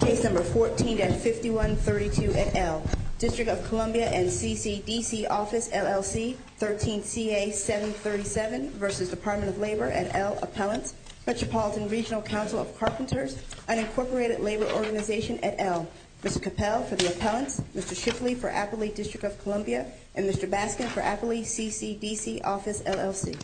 Case No. 14-5132 et al., District of Columbia and CCDC Office LLC, 13 CA-737 v. Department of Labor et al. Appellant, Metropolitan Regional Council of Carpenters, Unincorporated Labor Organization et al. Mr. Cattell for the Appellant, Mr. Shipley for Appley District of Columbia, and Mr. Baskin for Appley CCDC Office LLC.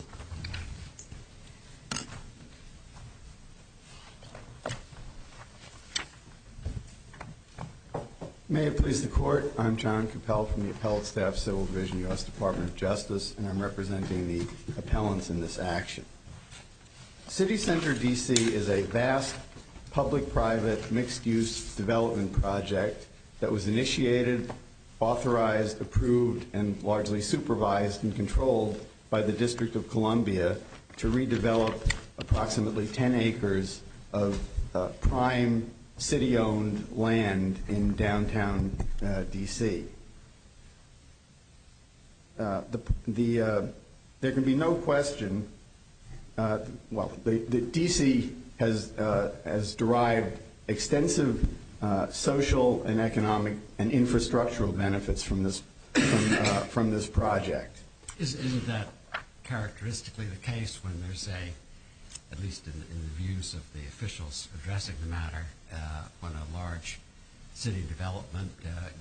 May it please the Court, I'm John Cattell from the Appellant Staff Civil Division, U.S. Department of Justice, and I'm representing the appellants in this action. City Center D.C. is a vast public-private mixed-use development project that was initiated, authorized, approved, and largely supervised and controlled by the District of Columbia to redevelop approximately 10 acres of prime city-owned land in downtown D.C. There can be no question that D.C. has derived extensive social and economic and infrastructural benefits from this project. Isn't that characteristically the case when there's a, at least in the views of the officials addressing the matter, when a large city development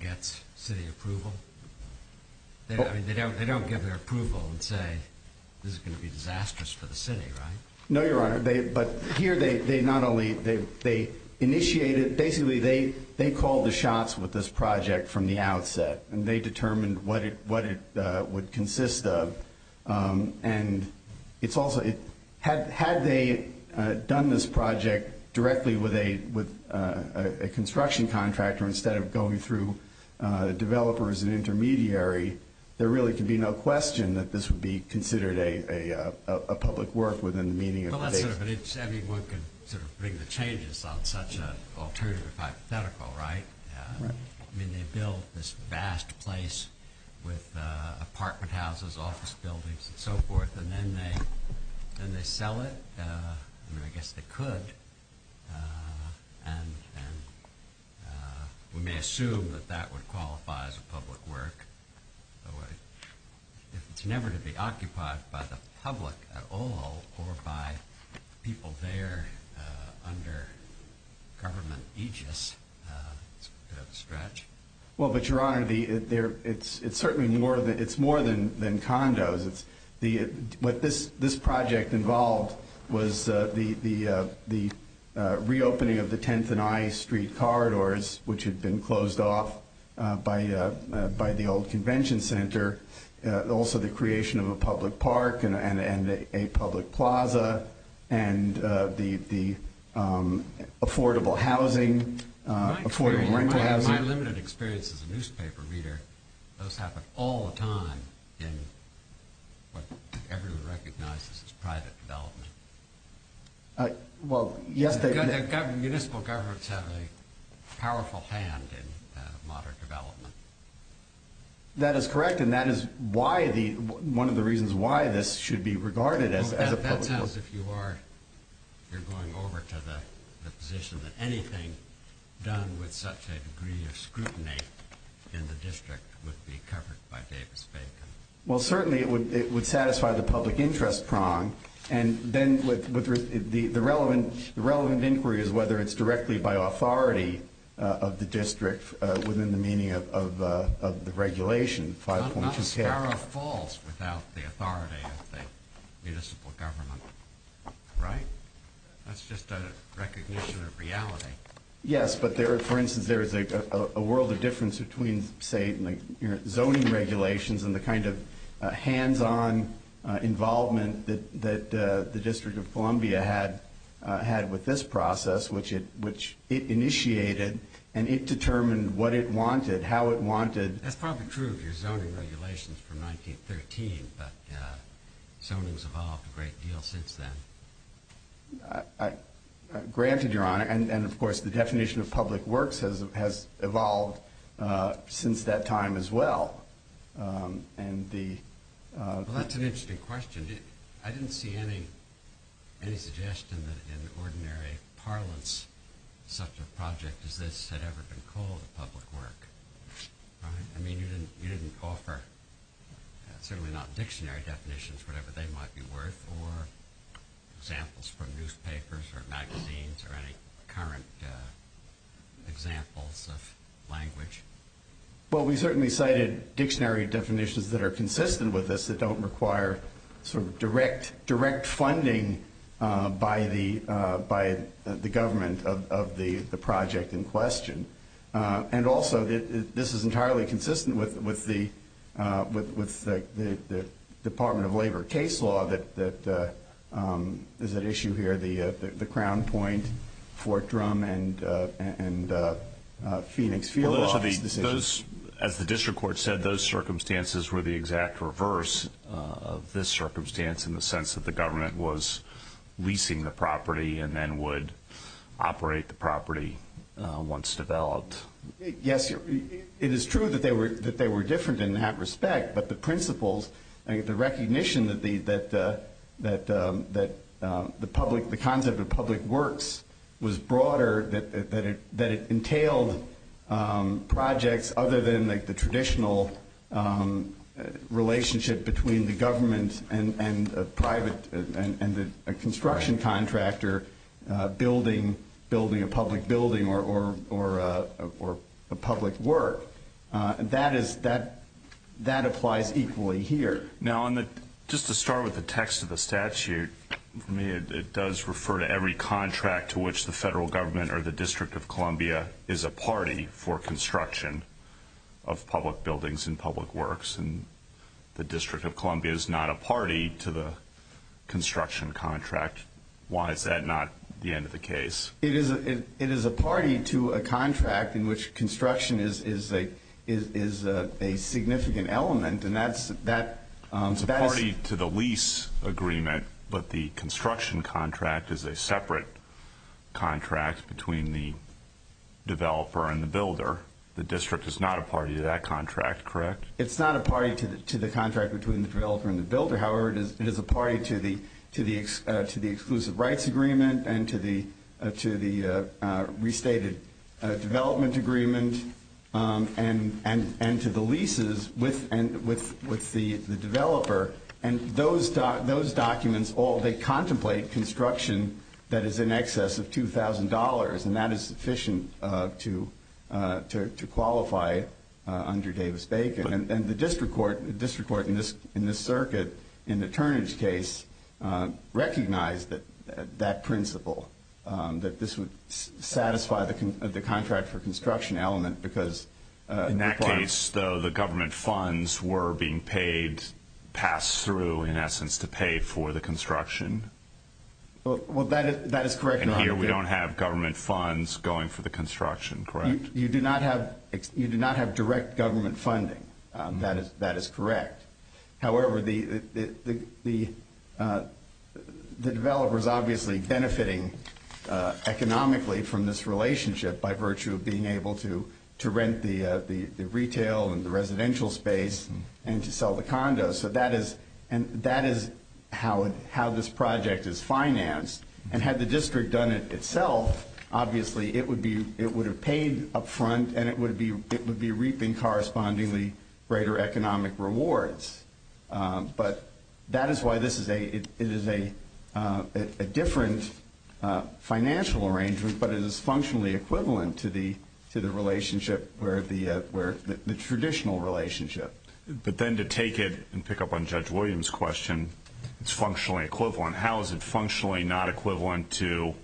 gets city approval? They don't give their approval and say, this is going to be disastrous for the city, right? No, Your Honor. But here they not only, they initiated, basically they called the shots with this project from the outset, and they determined what it would consist of. And it's also, had they done this project directly with a construction contractor instead of going through developers and intermediary, there really could be no question that this would be considered a public work within the meaning of the date. Well, I don't know if anyone can make the changes on such an alternative hypothetical, right? I mean, they built this vast place with apartment houses, office buildings, and so forth, and then they sell it, and I guess they could. And we may assume that that would qualify as a public work. It's never to be occupied by the public at all or by people there under government aegis. It's a good stretch. Well, but Your Honor, it's certainly more than condos. What this project involved was the reopening of the 10th and I Street corridors, which had been closed off by the old convention center, and also the creation of a public park and a public plaza, and the affordable housing. My limited experience as a newspaper reader, those happen all the time in what everyone recognizes as private development. Well, yes, they do. Municipal governments have a powerful hand in modern development. That is correct, and that is one of the reasons why this should be regarded as a public project. Because if you are, you're going over to the position that anything done with such a degree of scrutiny in the district would be covered by Davis paper. Well, certainly it would satisfy the public interest prong, and then the relevant inquiry is whether it's directly by authority of the district within the meaning of the regulation. I don't think SCARA falls without the authority of the municipal government. Right. That's just a recognition of reality. Yes, but there is a world of difference between, say, zoning regulations and the kind of hands-on involvement that the District of Columbia had with this process, which it initiated, and it determined what it wanted, how it wanted. That's probably true of your zoning regulations from 1913, but zoning has evolved a great deal since then. Granted, Your Honor, and of course the definition of public works has evolved since that time as well. That's an interesting question. I didn't see any suggestion that in ordinary parlance such a project as this had ever been called public work. I mean, you didn't offer, certainly not dictionary definitions, whatever they might be worth, or examples from newspapers or magazines or any current examples of language. Well, we certainly cited dictionary definitions that are consistent with this that don't require sort of direct funding by the government of the project in question. And also, this is entirely consistent with the Department of Labor case law that is at issue here, the Crown Point, Fort Drum, and Phoenix. As the district court said, those circumstances were the exact reverse of this circumstance in the sense that the government was leasing the property and then would operate the property once developed. Yes, it is true that they were different in that respect, but the principles, the recognition that the concept of public works was broader, that it entailed projects other than the traditional relationship between the government and a construction contractor building a public building or public work. That applies equally here. Now, just to start with the text of the statute, it does refer to every contract to which the federal government or the District of Columbia is a party for construction of public buildings and public works. And the District of Columbia is not a party to the construction contract. Why is that not the end of the case? It is a party to a contract in which construction is a significant element. It's a party to the lease agreement, but the construction contract is a separate contract between the developer and the builder. The district is not a party to that contract, correct? It's not a party to the contract between the developer and the builder. However, it is a party to the exclusive rights agreement and to the restated development agreement and to the leases with the developer. And those documents all, they contemplate construction that is in excess of $2,000, and that is sufficient to qualify under Davis-Bacon. And the district court in this circuit, in the Turnage case, recognized that principle, that this would satisfy the contract for construction element because in that case, though, the government funds were being paid, passed through, in essence, to pay for the construction. Well, that is correct. And here we don't have government funds going for the construction, correct? You do not have direct government funding. That is correct. However, the developer is obviously benefiting economically from this relationship by virtue of being able to rent the retail and the residential space and to sell the condos. And that is how this project is financed. And had the district done it itself, obviously, it would have paid up front and it would be reaping correspondingly greater economic rewards. But that is why this is a different financial arrangement, but it is functionally equivalent to the relationship or the traditional relationship. But then to take it and pick up on Judge Williams' question, it's functionally equivalent. How is it functionally not equivalent to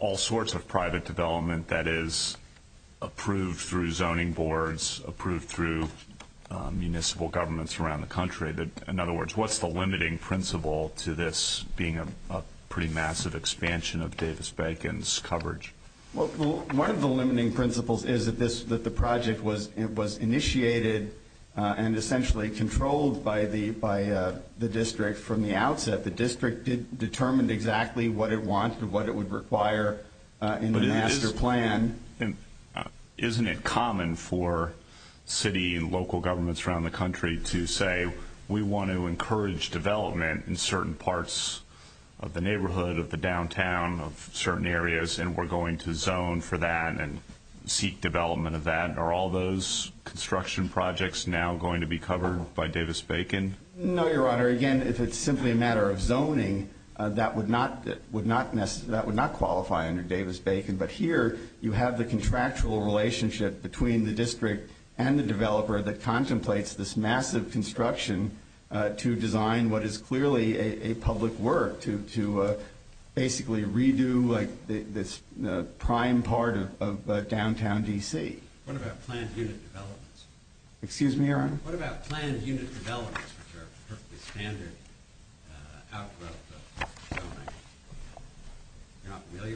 all sorts of private development that is approved through zoning boards, approved through municipal governments around the country? In other words, what's the limiting principle to this being a pretty massive expansion of Davis-Bacon's coverage? Well, one of the limiting principles is that the project was initiated and essentially controlled by the district from the outset. The district determined exactly what it wants and what it would require in the master plan. Isn't it common for city and local governments around the country to say, we want to encourage development in certain parts of the neighborhood, of the downtown, of certain areas, and we're going to zone for that and seek development of that? Are all those construction projects now going to be covered by Davis-Bacon? No, Your Honor. Your Honor, again, if it's simply a matter of zoning, that would not qualify under Davis-Bacon. But here you have the contractual relationship between the district and the developer that contemplates this massive construction to design what is clearly a public work, to basically redo this prime part of downtown D.C. What about planned unit developments? Excuse me, Your Honor?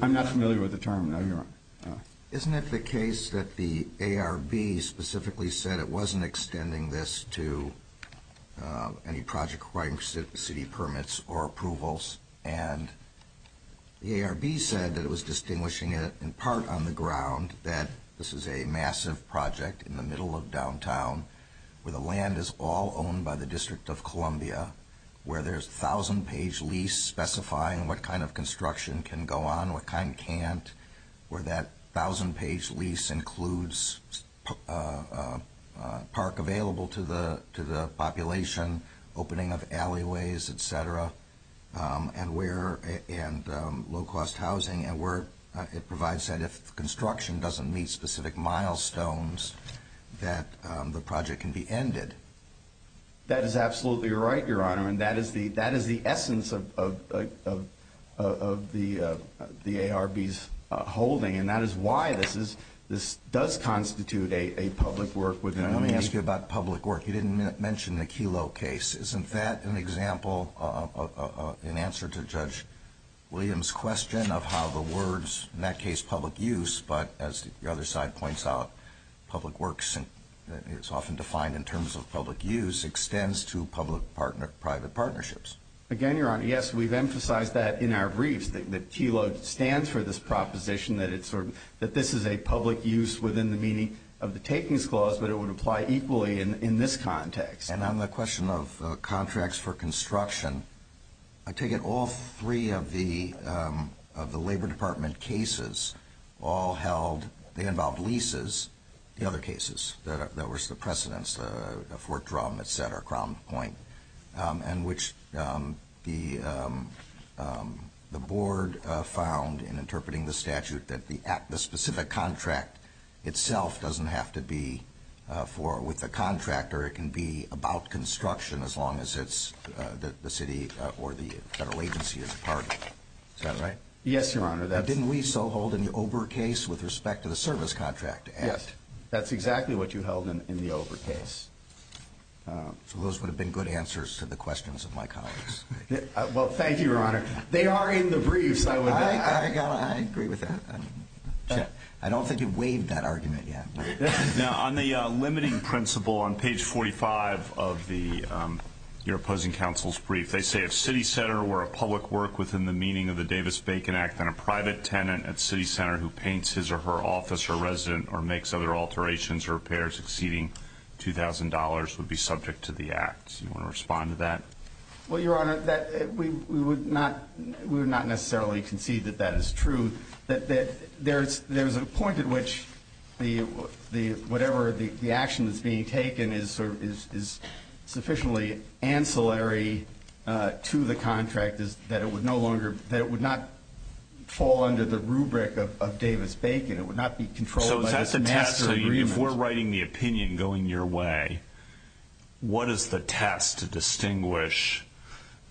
I'm not familiar with the term, Your Honor. Isn't it the case that the ARB specifically said it wasn't extending this to any project requiring city permits or approvals, and the ARB said that it was distinguishing it in part on the ground that this is a massive project in the middle of downtown, where the land is all owned by the District of Columbia, where there's 1,000-page lease specifying what kind of construction can go on, what kind can't, where that 1,000-page lease includes park available to the population, opening of alleyways, et cetera, and low-cost housing, and where it provides that if construction doesn't meet specific milestones, that the project can be ended. That is absolutely right, Your Honor, and that is the essence of the ARB's holding, and that is why this does constitute a public work. Let me ask you about public work. You didn't mention the KELO case. Isn't that an example in answer to Judge Williams' question of how the words, in that case, public use, but as the other side points out, public works, it's often defined in terms of public use, extends to public-private partnerships? Again, Your Honor, yes, we've emphasized that in our briefs. The KELO stands for this proposition that this is a public use within the meaning of the Takings Clause, but it would apply equally in this context. On the question of contracts for construction, I take it all three of the Labor Department cases all held, they involved leases. In other cases, there was the precedence, the Fort Drum, et cetera, Crown Point, in which the Board found in interpreting the statute that the specific contract itself doesn't have to be with the contractor. It can be about construction as long as it's the city or the federal agency is a part of it. Is that right? Yes, Your Honor. Didn't we so hold an OBRA case with respect to the service contract? Yes. That's exactly what you held in the OBRA case. Those would have been good answers to the questions of my colleagues. Well, thank you, Your Honor. They are in the brief. I agree with that. I don't think you've waived that argument yet. On the limiting principle on page 45 of your opposing counsel's brief, they say a city center where a public work within the meaning of the Davis-Bacon Act and a private tenant at city center who paints his or her office or resident or makes other alterations or repairs exceeding $2,000 would be subject to the act. Do you want to respond to that? Well, Your Honor, we would not necessarily concede that that is true. There's a point at which whatever the action that's being taken is sufficiently ancillary to the contract that it would not fall under the rubric of Davis-Bacon. It would not be controlled by the master agreement. If we're writing the opinion going your way, what is the test to distinguish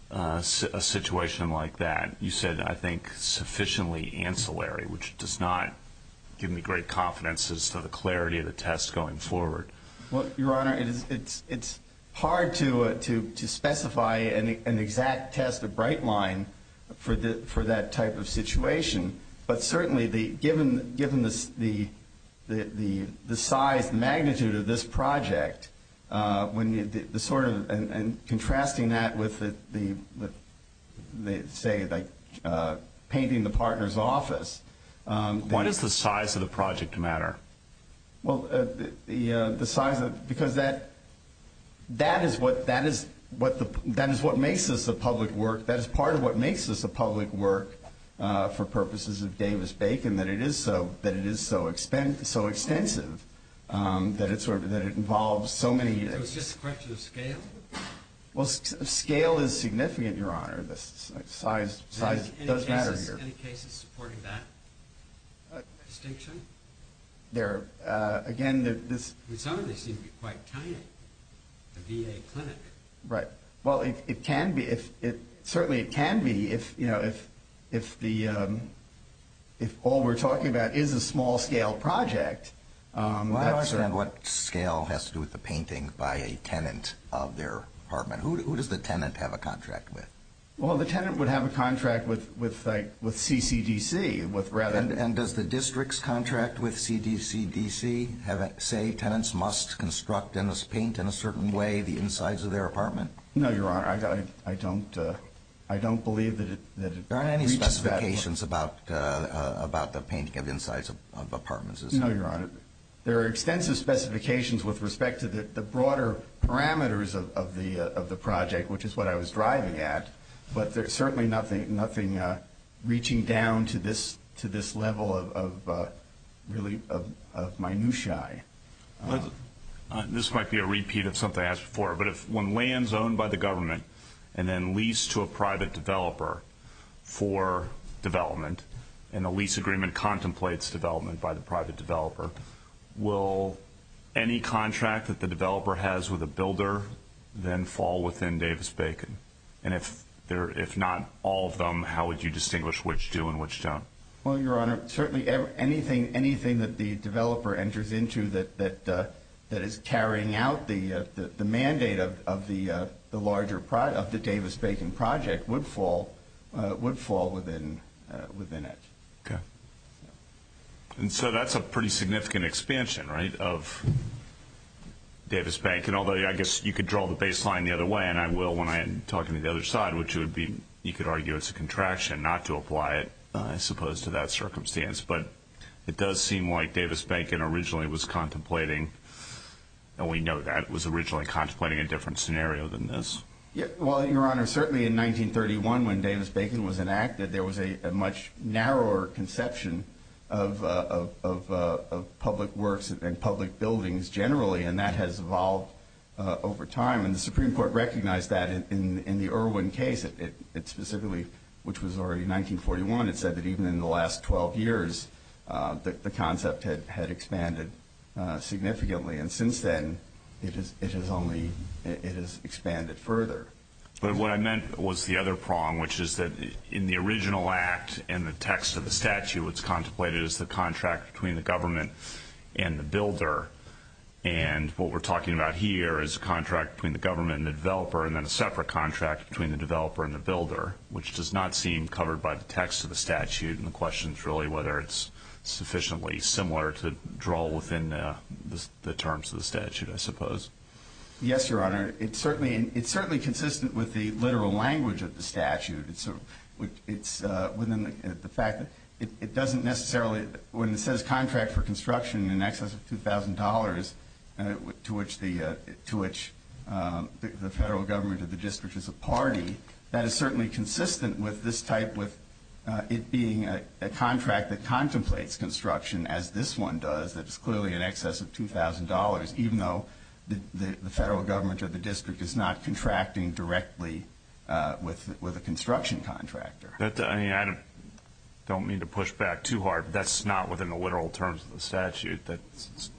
a situation like that? You said, I think, sufficiently ancillary, which does not give me great confidence as to the clarity of the test going forward. Well, Your Honor, it's hard to specify an exact test, a bright line for that type of situation. Certainly, given the size magnitude of this project and contrasting that with, say, painting the partner's office. Why does the size of the project matter? Because that is what makes this a public work. That is part of what makes this a public work for purposes of Davis-Bacon, that it is so extensive that it involves so many… It was just a question of scale. Well, scale is significant, Your Honor. Size does matter here. Are there any cases supporting that distinction? There are. Again, this… With some of this, it would be quite tiny, a VA clinic. Right. Well, it can be. Certainly, it can be if all we're talking about is a small-scale project. I understand what scale has to do with the painting by a tenant of their apartment. Who does the tenant have a contract with? Well, the tenant would have a contract with CCDC. And does the district's contract with CDCDC say tenants must construct and paint in a certain way the insides of their apartment? No, Your Honor. I don't believe that it… There aren't any specifications about the painting of insides of apartments, is there? No, Your Honor. There are extensive specifications with respect to the broader parameters of the project, which is what I was driving at, but there's certainly nothing reaching down to this level of minutiae. This might be a repeat of something I asked before, but if one lands owned by the government and then leased to a private developer for development and the lease agreement contemplates development by the private developer, will any contract that the developer has with a builder then fall within Davis-Bacon? And if not all of them, how would you distinguish which do and which don't? Well, Your Honor, certainly anything that the developer enters into that is carrying out the mandate of the Davis-Bacon project would fall within it. Okay. And so that's a pretty significant expansion, right, of Davis-Bacon, although I guess you could draw the baseline the other way, and I will when I am talking to the other side, which would be you could argue it's a contraction not to apply it as opposed to that circumstance. But it does seem like Davis-Bacon originally was contemplating, and we know that it was originally contemplating a different scenario than this. Well, Your Honor, certainly in 1931 when Davis-Bacon was enacted, there was a much narrower conception of public works and public buildings generally, and that has evolved over time. And the Supreme Court recognized that in the Irwin case, specifically, which was already 1941. It said that even in the last 12 years the concept had expanded significantly, and since then it has expanded further. But what I meant was the other prong, which is that in the original act and the text of the statute, it's contemplated as the contract between the government and the builder, and what we're talking about here is a contract between the government and the developer and then a separate contract between the developer and the builder, which does not seem covered by the text of the statute, and the question is really whether it's sufficiently similar to draw within the terms of the statute, I suppose. Yes, Your Honor. It's certainly consistent with the literal language of the statute. It's within the fact that it doesn't necessarily, when it says contract for construction in excess of $2,000 to which the federal government of the district is a party, that is certainly consistent with this type with it being a contract that contemplates construction, as this one does that's clearly in excess of $2,000, even though the federal government of the district is not contracting directly with a construction contractor. I mean, I don't mean to push back too hard, but that's not within the literal terms of the statute, that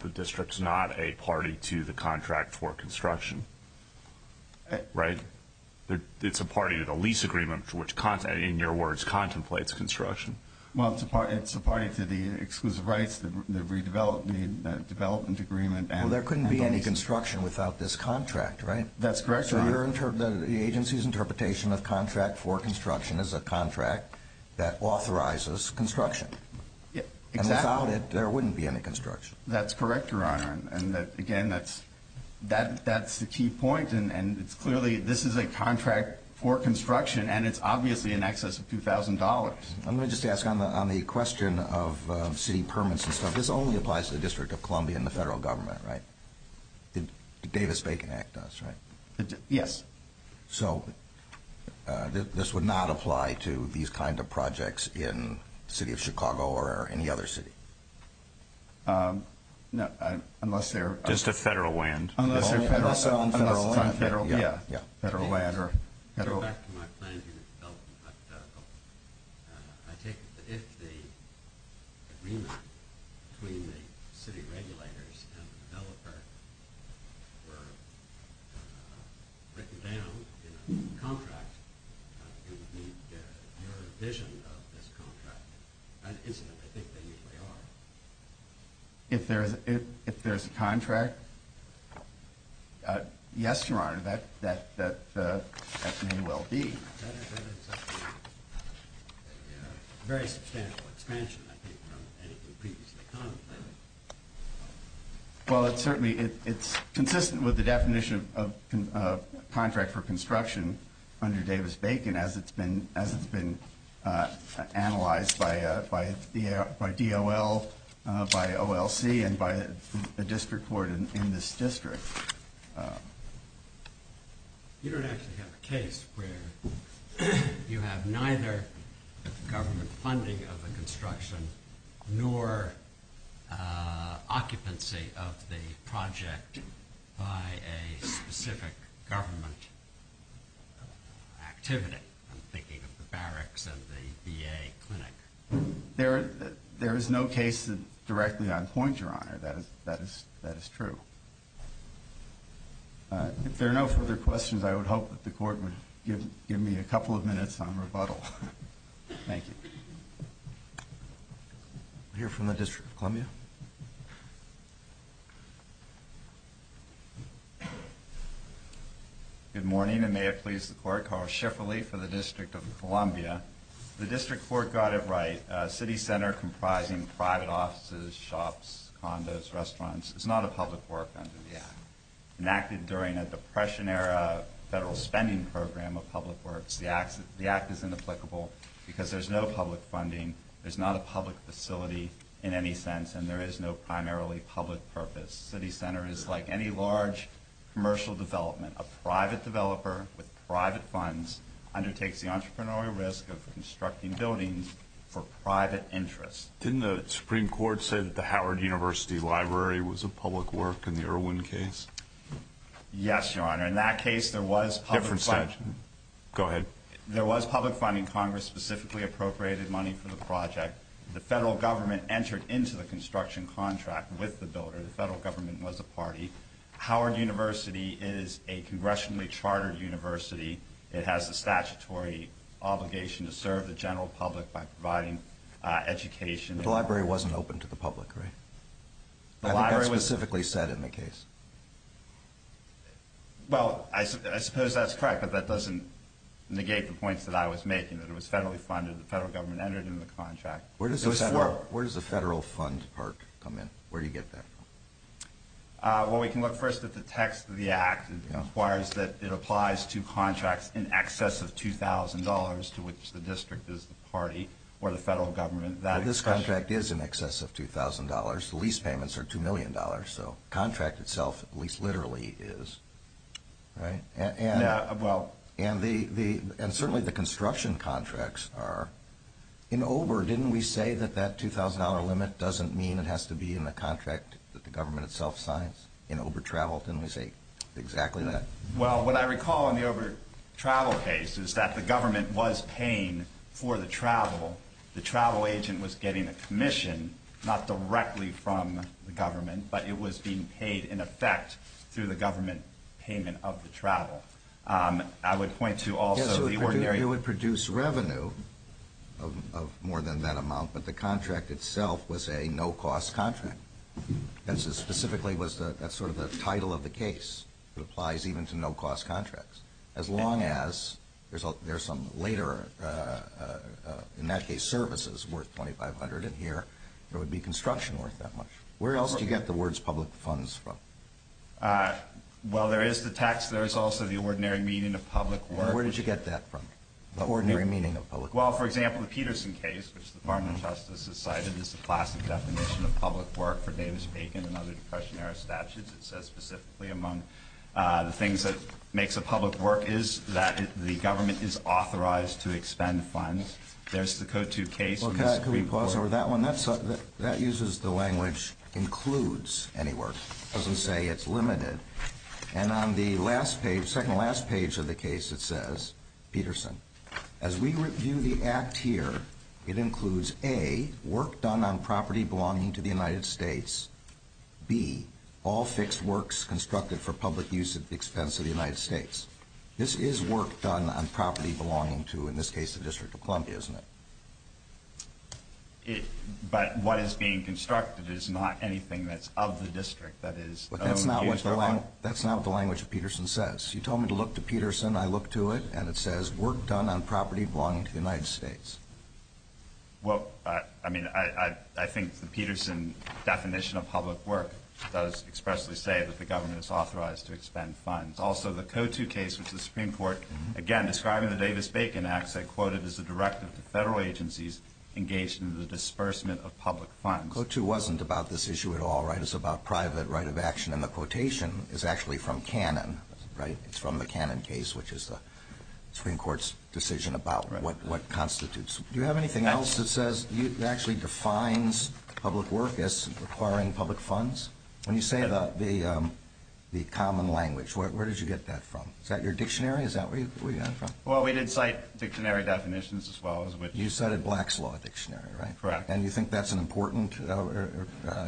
the district's not a party to the contract for construction, right? It's a party to the lease agreement for which, in your words, contemplates construction. Well, it's a party to the exclusive rights, the redevelopment agreement. So there couldn't be any construction without this contract, right? That's correct, Your Honor. So the agency's interpretation of contract for construction is a contract that authorizes construction. Exactly. And without it, there wouldn't be any construction. That's correct, Your Honor, and again, that's the key point, and clearly this is a contract for construction, and it's obviously in excess of $2,000. I'm going to just ask on the question of city permits and stuff, this only applies to the District of Columbia and the federal government, right? The Davis-Bacon Act does, right? Yes. So this would not apply to these kinds of projects in the City of Chicago or any other city? No, unless they're- Just a federal land. Unless they're on federal land. Federal, yeah. Federal land or federal- Going back to my point, I think that if the agreement between the city regulators and the developer were written down in the contract, there would be a revision of this contract. If there's a contract, yes, Your Honor, that's a new L.D. Well, certainly it's consistent with the definition of contract for construction under Davis-Bacon as it's been analyzed by DOL, by OLC, and by a district court in this district. You don't actually have a case where you have neither government funding of the construction nor occupancy of the project by a specific government activity. I'm thinking of the barracks and the VA clinic. There is no case that directly I'd point, Your Honor. That is true. If there are no further questions, I would hope that the Court would give me a couple of minutes on rebuttal. Thank you. We'll hear from the District of Columbia. Good morning, and may it please the Court. Carl Schifferle for the District of Columbia. The District Court got it right. A city center comprising private offices, shops, condos, restaurants is not a public work under the Act. Enacted during a Depression-era federal spending program of public works, the Act is inapplicable because there's no public funding. There's not a public facility in any sense, and there is no primarily public purpose. City centers, like any large commercial development, a private developer with private funds undertakes the entrepreneurial risk of constructing buildings for private interests. Didn't the Supreme Court say that the Howard University Library was a public work in the Irwin case? Yes, Your Honor. In that case, there was public funding. Go ahead. There was public funding. Congress specifically appropriated money for the project. The federal government entered into the construction contract with the builder. The federal government was a party. Howard University is a congressionally chartered university. It has a statutory obligation to serve the general public by providing education. The library wasn't open to the public, right? That was specifically said in the case. Well, I suppose that's correct, but that doesn't negate the points that I was making. It was federally funded. The federal government entered into the contract. Where does the federal funds part come in? Where do you get that? Well, we can look first at the text of the Act. It requires that it applies to contracts in excess of $2,000 to which the district is the party or the federal government. The lease payments are $2 million. The contract itself, at least literally, is. Certainly, the construction contracts are. In OBRA, didn't we say that that $2,000 limit doesn't mean it has to be in a contract that the government itself signs? In OBRA travel, didn't we say exactly that? Well, what I recall in the OBRA travel case is that the government was paying for the travel. The travel agent was getting a commission, not directly from the government, but it was being paid in effect through the government payment of the travel. I would point to also the ordinary. Yes, it would produce revenue of more than that amount, but the contract itself was a no-cost contract. That specifically was sort of the title of the case. It applies even to no-cost contracts. As long as there are some later, in that case, services worth $2,500 in here, there would be construction worth that much. Where else do you get the words public funds from? Well, there is the text. There is also the ordinary meaning of public work. Where did you get that from, the ordinary meaning of public work? Well, for example, the Peterson case, which the Department of Justice has cited, is a classic definition of public work for Davis-Bacon and other Depression-era statutes. It says specifically among the things that makes a public work is that the government is authorized to extend funds. There's the Code 2 case. Can we pause over that one? That uses the language includes any work. It doesn't say it's limited. And on the second-to-last page of the case, it says, Peterson, as we review the Act here, it includes, A, work done on property belonging to the United States, B, all fixed works constructed for public use at the expense of the United States. This is work done on property belonging to, in this case, the District of Columbia, isn't it? But what is being constructed is not anything that's of the district. That's not what the language of Peterson says. You tell me to look to Peterson, I look to it, and it says work done on property belonging to the United States. Well, I mean, I think the Peterson definition of public work does expressly say that the government is authorized to extend funds. Also, the Code 2 case with the Supreme Court, again, describing the Davis-Bacon Act, they quote it as a directive to federal agencies engaged in the disbursement of public funds. Code 2 wasn't about this issue at all, right? It's about private right of action, and the quotation is actually from Cannon, right? The Supreme Court's decision about what constitutes. Do you have anything else that says it actually defines public work as requiring public funds? When you say about the common language, where did you get that from? Is that your dictionary? Is that where you got it from? Well, we did cite dictionary definitions as well. You cited Black's Law Dictionary, right? Correct. And you think that's an important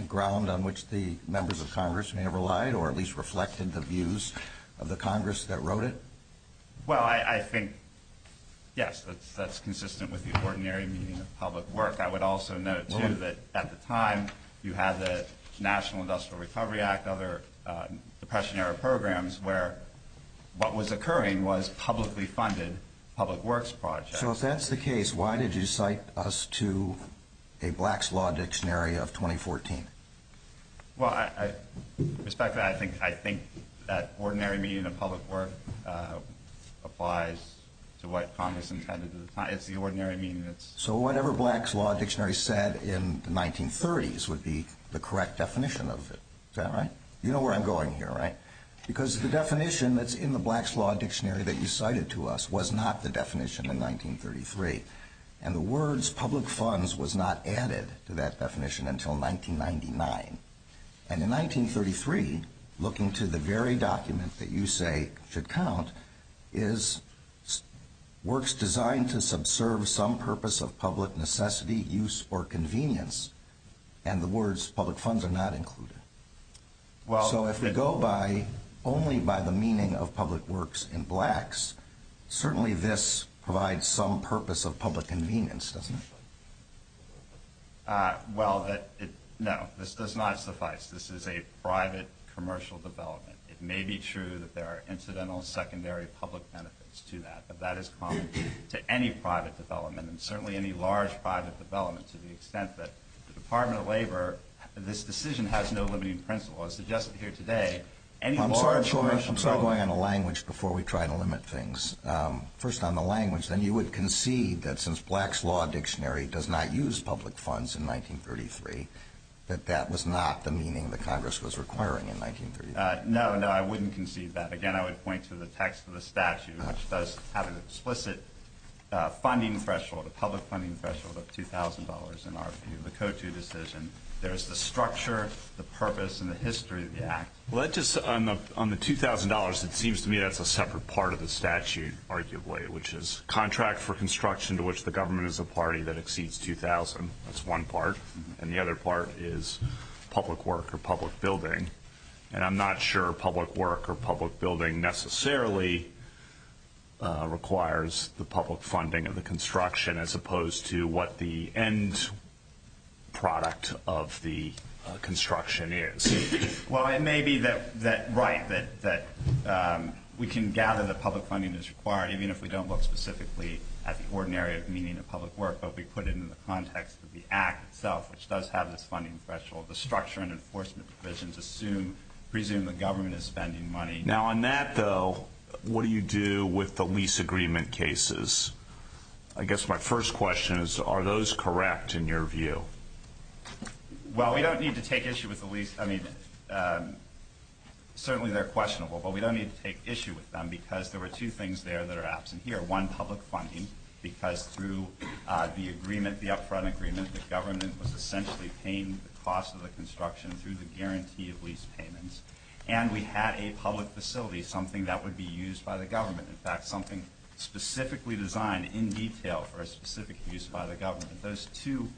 ground on which the members of Congress may have relied or at least reflected the views of the Congress that wrote it? Well, I think, yes, that's consistent with the ordinary meaning of public work. I would also note, too, that at the time you had the National Industrial Recovery Act, other Depression-era programs where what was occurring was publicly funded public works projects. So if that's the case, why did you cite us to a Black's Law Dictionary of 2014? Well, respectfully, I think that ordinary meaning of public work applies to what Congress intended. It's not just the ordinary meaning. So whatever Black's Law Dictionary said in the 1930s would be the correct definition of it. Is that right? You know where I'm going here, right? Because the definition that's in the Black's Law Dictionary that you cited to us was not the definition in 1933. And the words public funds was not added to that definition until 1999. And in 1933, looking to the very document that you say should count, is works designed to subserve some purpose of public necessity, use, or convenience. And the words public funds are not included. So if we go only by the meaning of public works in Blacks, certainly this provides some purpose of public convenience, doesn't it? Well, no, this does not suffice. This is a private commercial development. It may be true that there are incidental secondary public benefits to that, but that is common to any private development and certainly any large private development to the extent that the Department of Labor, this decision has no limiting principle. As suggested here today, any large commercial development... I'm sorry, I'm struggling on the language before we try to limit things. First on the language, then you would concede that since Black's Law Dictionary does not use public funds in 1933, that that was not the meaning that Congress was requiring in 1933. No, no, I wouldn't concede that. Again, I would point to the text of the statute, which does have an explicit funding threshold, a public funding threshold of $2,000 in the Code 2 decision. There's the structure, the purpose, and the history of the act. Well, that's just on the $2,000, it seems to me that's a separate part of the statute, arguably, which is contract for construction to which the government is a party that exceeds $2,000. That's one part. And the other part is public work or public building. And I'm not sure public work or public building necessarily requires the public funding of the construction as opposed to what the end product of the construction is. Well, it may be that, right, that we can gather the public funding that's required, even if we don't look specifically at the ordinary meaning of public work, but we put it in the context of the act itself, which does have this funding threshold. The structure and enforcement provisions assume the government is spending money. Now, on that, though, what do you do with the lease agreement cases? I guess my first question is, are those correct in your view? Well, we don't need to take issue with the lease. I mean, certainly they're questionable, but we don't need to take issue with them because there were two things there that are absent here. One, public funding, because through the agreement, the upfront agreement, the government was essentially paying the cost of the construction through the guarantee of lease payments, and we had a public facility, something that would be used by the government. In fact, something specifically designed in detail for a specific use by the government. Those two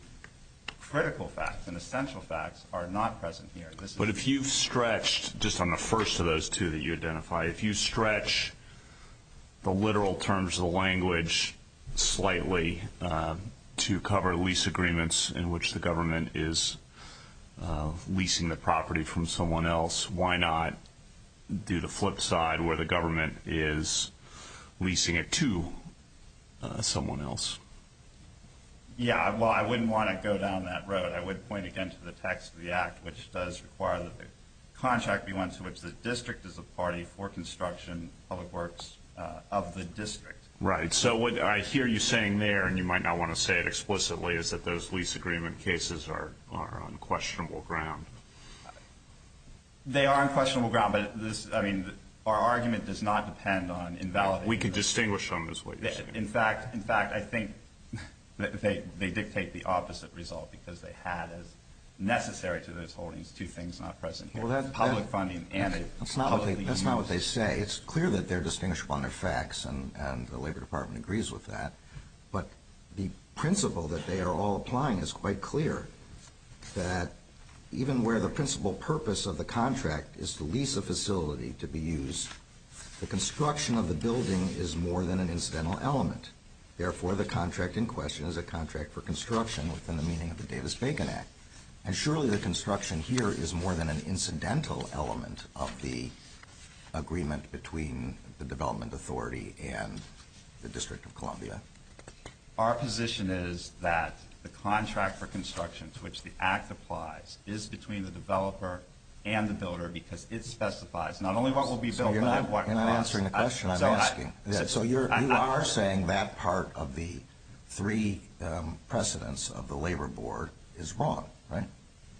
critical facts and essential facts are not present here. But if you stretched just on the first of those two that you identify, if you stretch the literal terms of the language slightly to cover lease agreements in which the government is leasing the property from someone else, why not do the flip side where the government is leasing it to someone else? Yeah, well, I wouldn't want to go down that road. I would point again to the text of the act, which does require that the contract be one to which the district is a party for construction, public works of the district. Right. So what I hear you saying there, and you might not want to say it explicitly, is that those lease agreement cases are on questionable ground. They are on questionable ground, but, I mean, our argument does not depend on invalidating them. We could distinguish them is what you're saying. In fact, I think that they dictate the opposite result because they have as necessary to this holding two things not present here, public funding and it's publicly known. That's not what they say. It's clear that they're distinguished upon their facts, and the Labor Department agrees with that. But the principle that they are all applying is quite clear, that even where the principal purpose of the contract is to lease a facility to be used, the construction of the building is more than an incidental element. Therefore, the contract in question is a contract for construction within the meaning of the Davis-Fagan Act. And surely the construction here is more than an incidental element of the agreement between the development authority and the District of Columbia. Our position is that the contract for construction to which the act applies is between the developer and the builder because it specifies not only what will be built, but also what will be used. So you're not answering the question I'm asking. So you are saying that part of the three precedents of the Labor Board is wrong, right?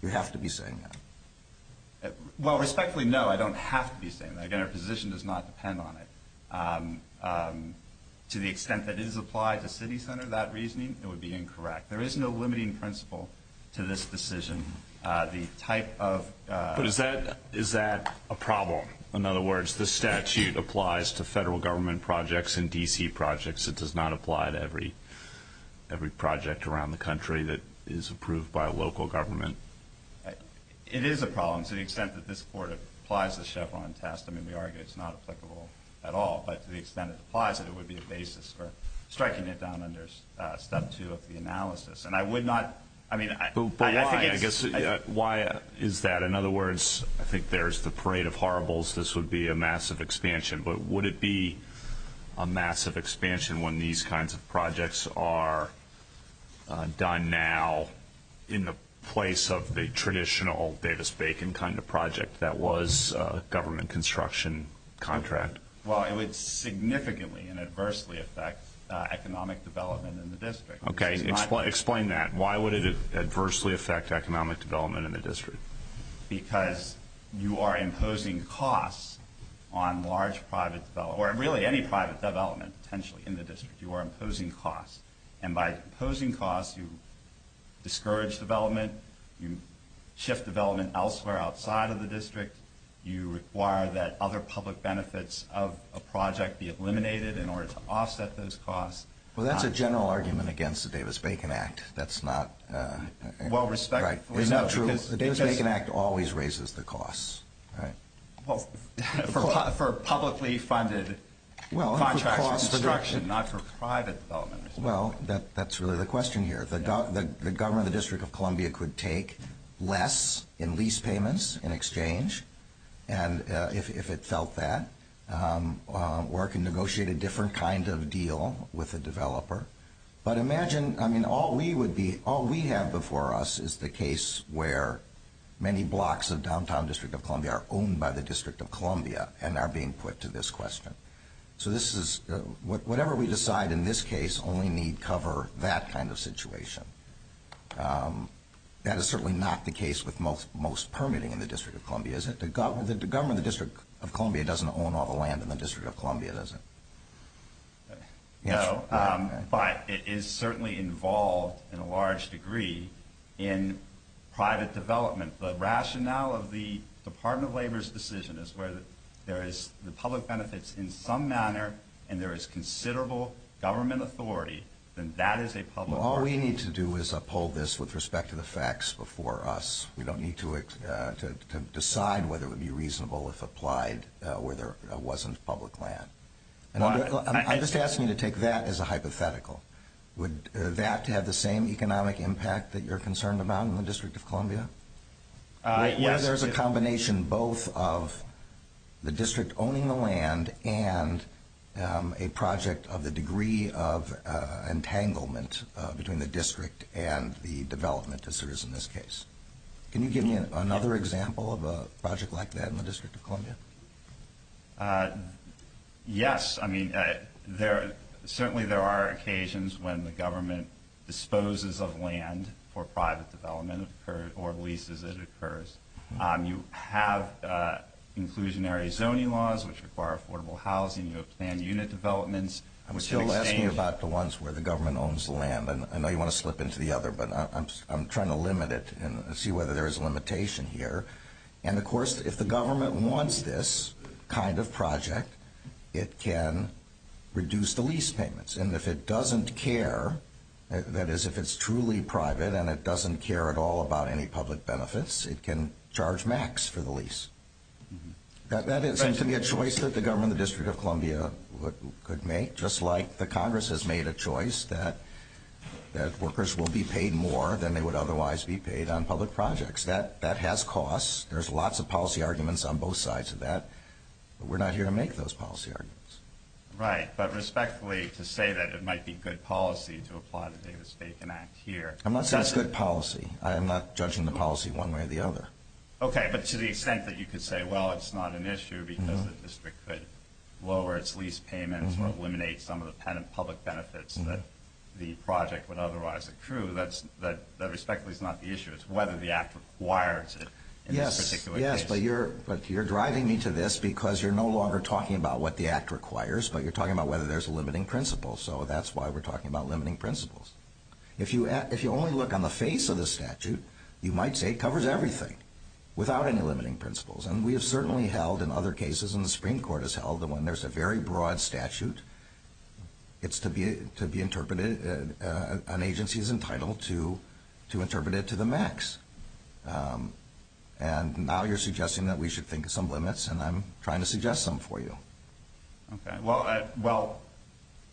You have to be saying that. Well, respectfully, no, I don't have to be saying that. Again, our position does not depend on it. To the extent that it is applied to city center, that reasoning, it would be incorrect. There is no limiting principle to this decision. But is that a problem? In other words, the statute applies to federal government projects and D.C. projects. It does not apply to every project around the country that is approved by local government. It is a problem to the extent that this board applies the Chevron test. I mean, we argue it's not applicable at all. But to the extent it applies it, it would be a basis for striking it down under Step 2 of the analysis. But why is that? In other words, I think there's the parade of horribles. This would be a massive expansion. But would it be a massive expansion when these kinds of projects are done now in the place of the traditional Davis-Bacon kind of project that was a government construction contract? Well, it would significantly and adversely affect economic development in the district. Okay. Explain that. Why would it adversely affect economic development in the district? Because you are imposing costs on large private development, or really any private development potentially in the district. You are imposing costs. And by imposing costs, you discourage development. You shift development elsewhere outside of the district. You require that other public benefits of a project be eliminated in order to offset those costs. Well, that's a general argument against the Davis-Bacon Act. That's not right. Well, respectfully, no. The Davis-Bacon Act always raises the costs. Well, for publicly funded contract construction, not for private development. Well, that's really the question here. The government of the District of Columbia could take less in lease payments in exchange, if it felt that, work and negotiate a different kind of deal with a developer. But imagine, I mean, all we have before us is the case where many blocks of downtown District of Columbia are owned by the District of Columbia and are being put to this question. So this is, whatever we decide in this case only need cover that kind of situation. That is certainly not the case with most permitting in the District of Columbia, is it? The government of the District of Columbia doesn't own all the land in the District of Columbia, does it? No, but it is certainly involved in a large degree in private development. The rationale of the Department of Labor's decision is whether there is the public benefits in some manner and there is considerable government authority, then that is a public... Well, all we need to do is uphold this with respect to the facts before us. We don't need to decide whether it would be reasonable if applied where there wasn't public land. I just ask you to take that as a hypothetical. Would that have the same economic impact that you're concerned about in the District of Columbia? Yes. There's a combination both of the District owning the land and a project of the degree of entanglement between the District and the development as there is in this case. Can you give me another example of a project like that in the District of Columbia? Yes. I mean, certainly there are occasions when the government disposes of land for private development or leases as it occurs. You have inclusionary zoning laws which require affordable housing. You have planned unit developments. I'm still asking about the ones where the government owns the land. I know you want to slip into the other, but I'm trying to limit it and see whether there is a limitation here. And, of course, if the government wants this kind of project, it can reduce the lease payments. And if it doesn't care, that is if it's truly private and it doesn't care at all about any public benefits, it can charge max for the lease. That seems to be a choice that the government of the District of Columbia could make, just like the Congress has made a choice that workers will be paid more than they would otherwise be paid on public projects. That has costs. There's lots of policy arguments on both sides of that. We're not here to make those policy arguments. Right. But respectfully, to say that it might be good policy to apply the Davis-Bacon Act here. I'm not saying it's good policy. I'm not judging the policy one way or the other. Okay. But to the extent that you could say, well, it's not an issue because the district could lower its lease payments or eliminate some of the public benefits that the project would otherwise accrue, that respectfully is not the issue. It's whether the act requires it in this particular case. Yes. But you're driving me to this because you're no longer talking about what the act requires, but you're talking about whether there's a limiting principle. So that's why we're talking about limiting principles. If you only look on the face of the statute, you might say it covers everything without any limiting principles. And we have certainly held in other cases, and the Supreme Court has held, that when there's a very broad statute, it's to be interpreted, an agency is entitled to interpret it to the max. And now you're suggesting that we should think of some limits, and I'm trying to suggest some for you. Okay. Well,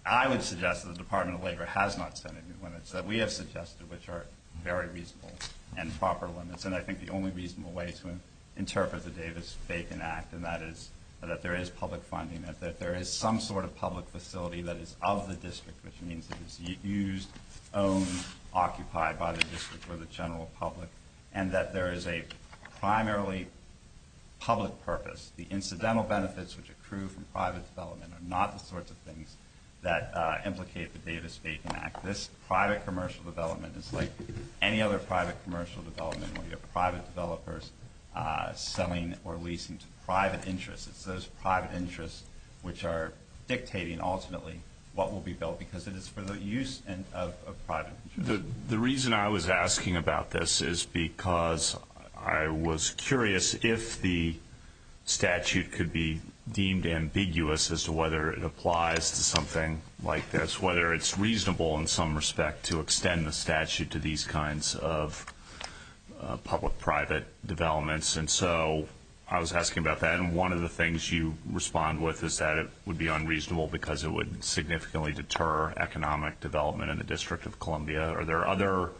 I would suggest that the Department of Labor has not set any limits. We have suggested which are very reasonable and proper limits, and I think the only reasonable way to interpret the Davis-Bacon Act, and that is that there is public funding, that there is some sort of public facility that is of the district, which means it is used, owned, occupied by the district or the general public, and that there is a primarily public purpose. The incidental benefits, which accrue from private development, are not the sorts of things that implicate the Davis-Bacon Act. This private commercial development is like any other private commercial development where you have private developers selling or leasing to private interests. It's those private interests which are dictating, ultimately, what will be built, because it is for the use of private interests. The reason I was asking about this is because I was curious if the statute could be deemed ambiguous as to whether it applies to something like this, whether it's reasonable in some respect to extend the statute to these kinds of public-private developments. And so I was asking about that, and one of the things you respond with is that it would be unreasonable because it would significantly deter economic development in the District of Columbia. Are there other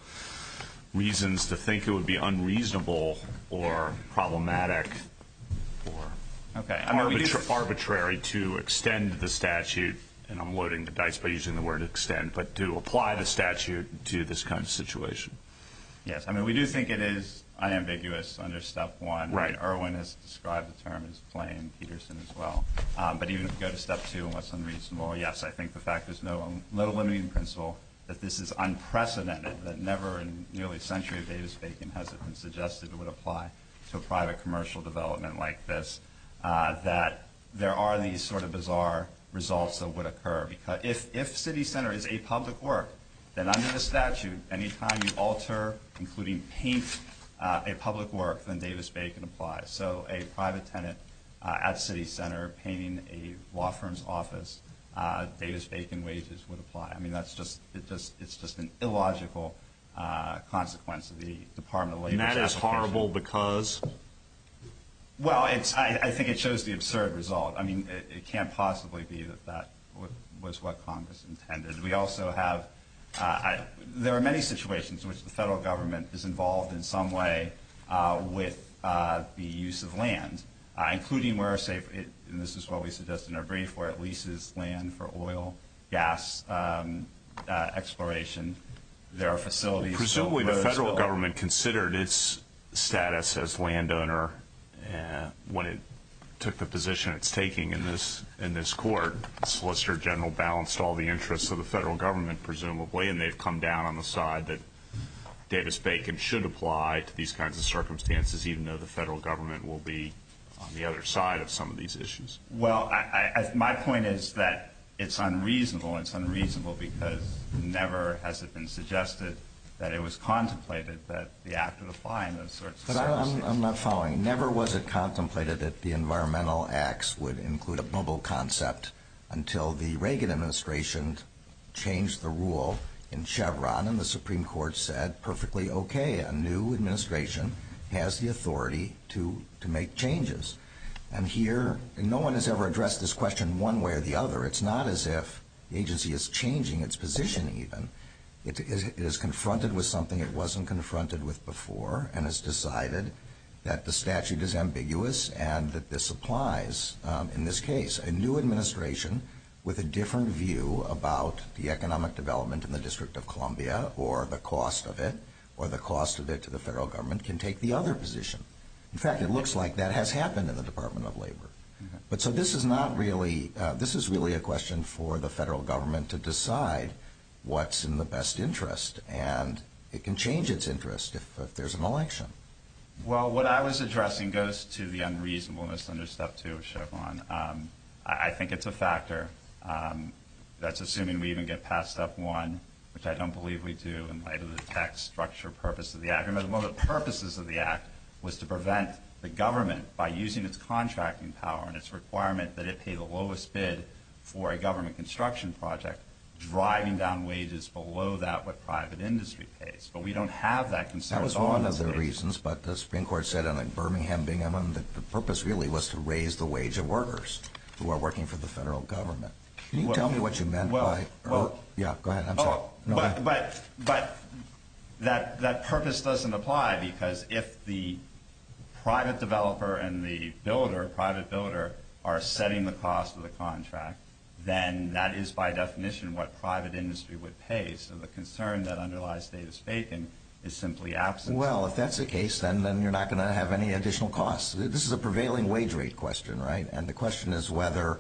reasons to think it would be unreasonable or problematic or arbitrary to extend the statute, and I'm loading the dice by using the word extend, but to apply the statute to this kind of situation? Yes. I mean, we do think it is unambiguous under Step 1. Right. Erwin has described the term as plain, Peterson as well, but even if you go to Step 2 and what's unreasonable, yes, I think the fact is, let alone even consult, that this is unprecedented, that never in nearly a century of Davis-Bacon has it been suggested it would apply to a private commercial development like this, that there are these sort of bizarre results that would occur. Because if city center is a public work, then under the statute, any time you alter, including paint, a public work, then Davis-Bacon applies. So a private tenant at city center painting a law firm's office, Davis-Bacon wages would apply. I mean, it's just an illogical consequence of the Department of Labor's statute. And that is horrible because? Well, I think it shows the absurd result. I mean, it can't possibly be that that was what Congress intended. We also have, there are many situations in which the federal government is involved in some way with the use of land, including where, say, and this is what we suggest in our brief, where it leases land for oil, gas exploration. There are facilities. Presumably the federal government considered its status as landowner when it took the position it's taking in this court. Solicitor General balanced all the interests of the federal government, presumably, and they've come down on the side that Davis-Bacon should apply to these kinds of circumstances, even though the federal government will be on the other side of some of these issues. Well, my point is that it's unreasonable. It's unreasonable because never has it been suggested that it was contemplated that the act of applying those sorts of things. I'm not following. Never was it contemplated that the environmental acts would include a bubble concept until the Reagan administration changed the rule in Chevron and the Supreme Court said perfectly okay, a new administration has the authority to make changes. And here, no one has ever addressed this question one way or the other. It's not as if the agency is changing its position even. It is confronted with something it wasn't confronted with before and has decided that the statute is ambiguous and that this applies in this case. A new administration with a different view about the economic development in the District of Columbia or the cost of it or the cost of it to the federal government can take the other position. In fact, it looks like that has happened in the Department of Labor. But so this is not really – this is really a question for the federal government to decide what's in the best interest, and it can change its interest if there's an election. Well, what I was addressing goes to the unreasonableness under Step 2 of Chevron. I think it's a factor that's assuming we even get past Step 1, which I don't believe we do in light of the tax structure purpose of the act. One of the purposes of the act was to prevent the government by using its contracting power and its requirement that it pay the lowest bid for a government construction project, driving down wages below that what private industry pays. But we don't have that concern. That was one of the reasons. But the Supreme Court said in Birmingham, Binghamton, that the purpose really was to raise the wage of workers who are working for the federal government. Can you tell me what you meant by – yeah, go ahead. Oh, but that purpose doesn't apply because if the private developer and the builder, private builder, are setting the cost of the contract, then that is by definition what private industry would pay. So the concern that underlies Davis-Bacon is simply absent. Well, if that's the case, then you're not going to have any additional costs. This is a prevailing wage rate question, right? And the question is whether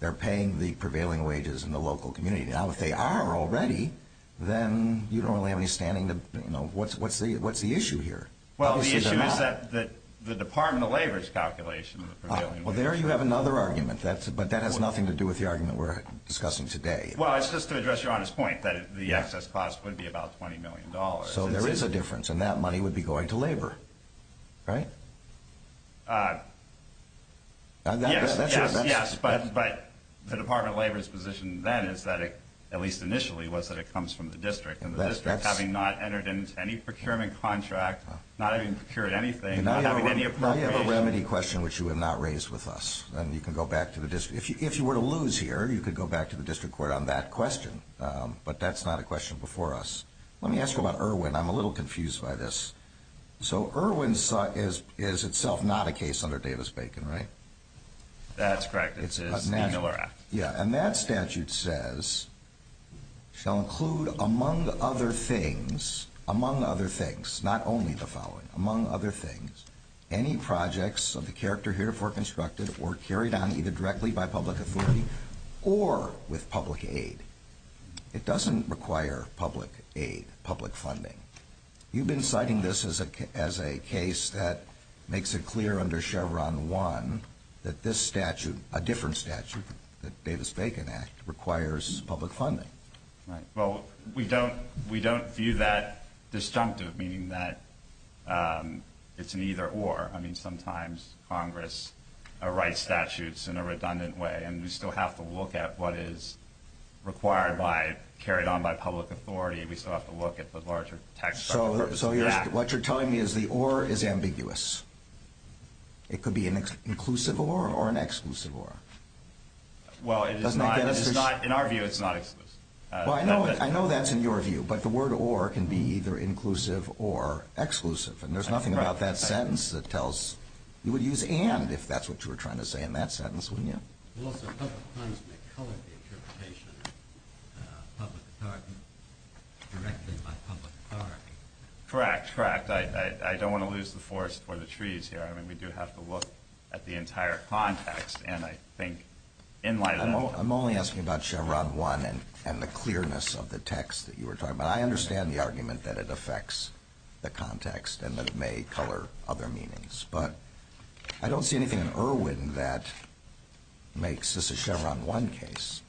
they're paying the prevailing wages in the local community. Now, if they are already, then you don't really have any standing. What's the issue here? Well, the issue is that the Department of Labor's calculation. Well, there you have another argument, but that has nothing to do with the argument we're discussing today. Well, it's just to address your honest point that the excess cost would be about $20 million. So there is a difference, and that money would be going to labor, right? Yes, but the Department of Labor's position then is that it, at least initially, was that it comes from the district, and the district having not entered into any procurement contract, not having procured anything, not having any appropriations. Let me ask you a remedy question which you have not raised with us, and you can go back to the district. If you were to lose here, you could go back to the district court on that question, but that's not a question before us. Let me ask you about Irwin. I'm a little confused by this. So Irwin is itself not a case under Davis-Bacon, right? That's correct. It's a manual error. Yeah, and that statute says, shall include among other things, among other things, not only the following, among other things, any projects of the character herefore constructed or carried on either directly by public authority or with public aid. It doesn't require public aid, public funding. You've been citing this as a case that makes it clear under Chevron 1 that this statute, a different statute, the Davis-Bacon Act, requires public funding. Well, we don't view that disjunctive, meaning that it's an either-or. I mean, sometimes Congress writes statutes in a redundant way, and we still have to look at what is required by, carried on by public authority, we still have to look at the larger text. So what you're telling me is the or is ambiguous. It could be an inclusive or or an exclusive or. Well, in our view, it's not. Well, I know that's in your view, but the word or can be either inclusive or exclusive, and there's nothing about that sentence that tells. You would use and if that's what you were trying to say in that sentence, wouldn't you? Well, there are a couple of times we've covered the interpretation of public authority directly by public authority. Correct, correct. I don't want to lose the forest for the trees here. I mean, we do have to look at the entire context, and I think in light of that. I'm only asking about Chevron 1 and the clearness of the text that you were talking about. I understand the argument that it affects the context and that it may color other meanings, but I don't see anything in Irwin that makes this a Chevron 1 case.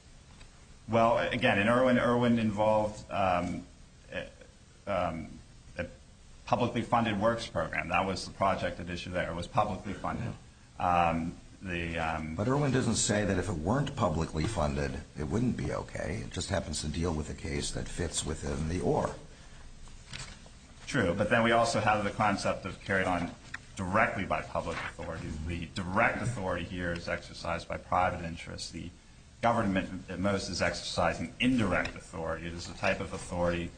Well, again, in Irwin, Irwin involved a publicly funded works program. That was the project that was publicly funded. But Irwin doesn't say that if it weren't publicly funded, it wouldn't be okay. It just happens to deal with a case that fits within the or. True, but then we also have the concept of carrying on directly by public authority. The direct authority here is exercised by private interests. The government, at most, is exercising indirect authority. It is a type of authority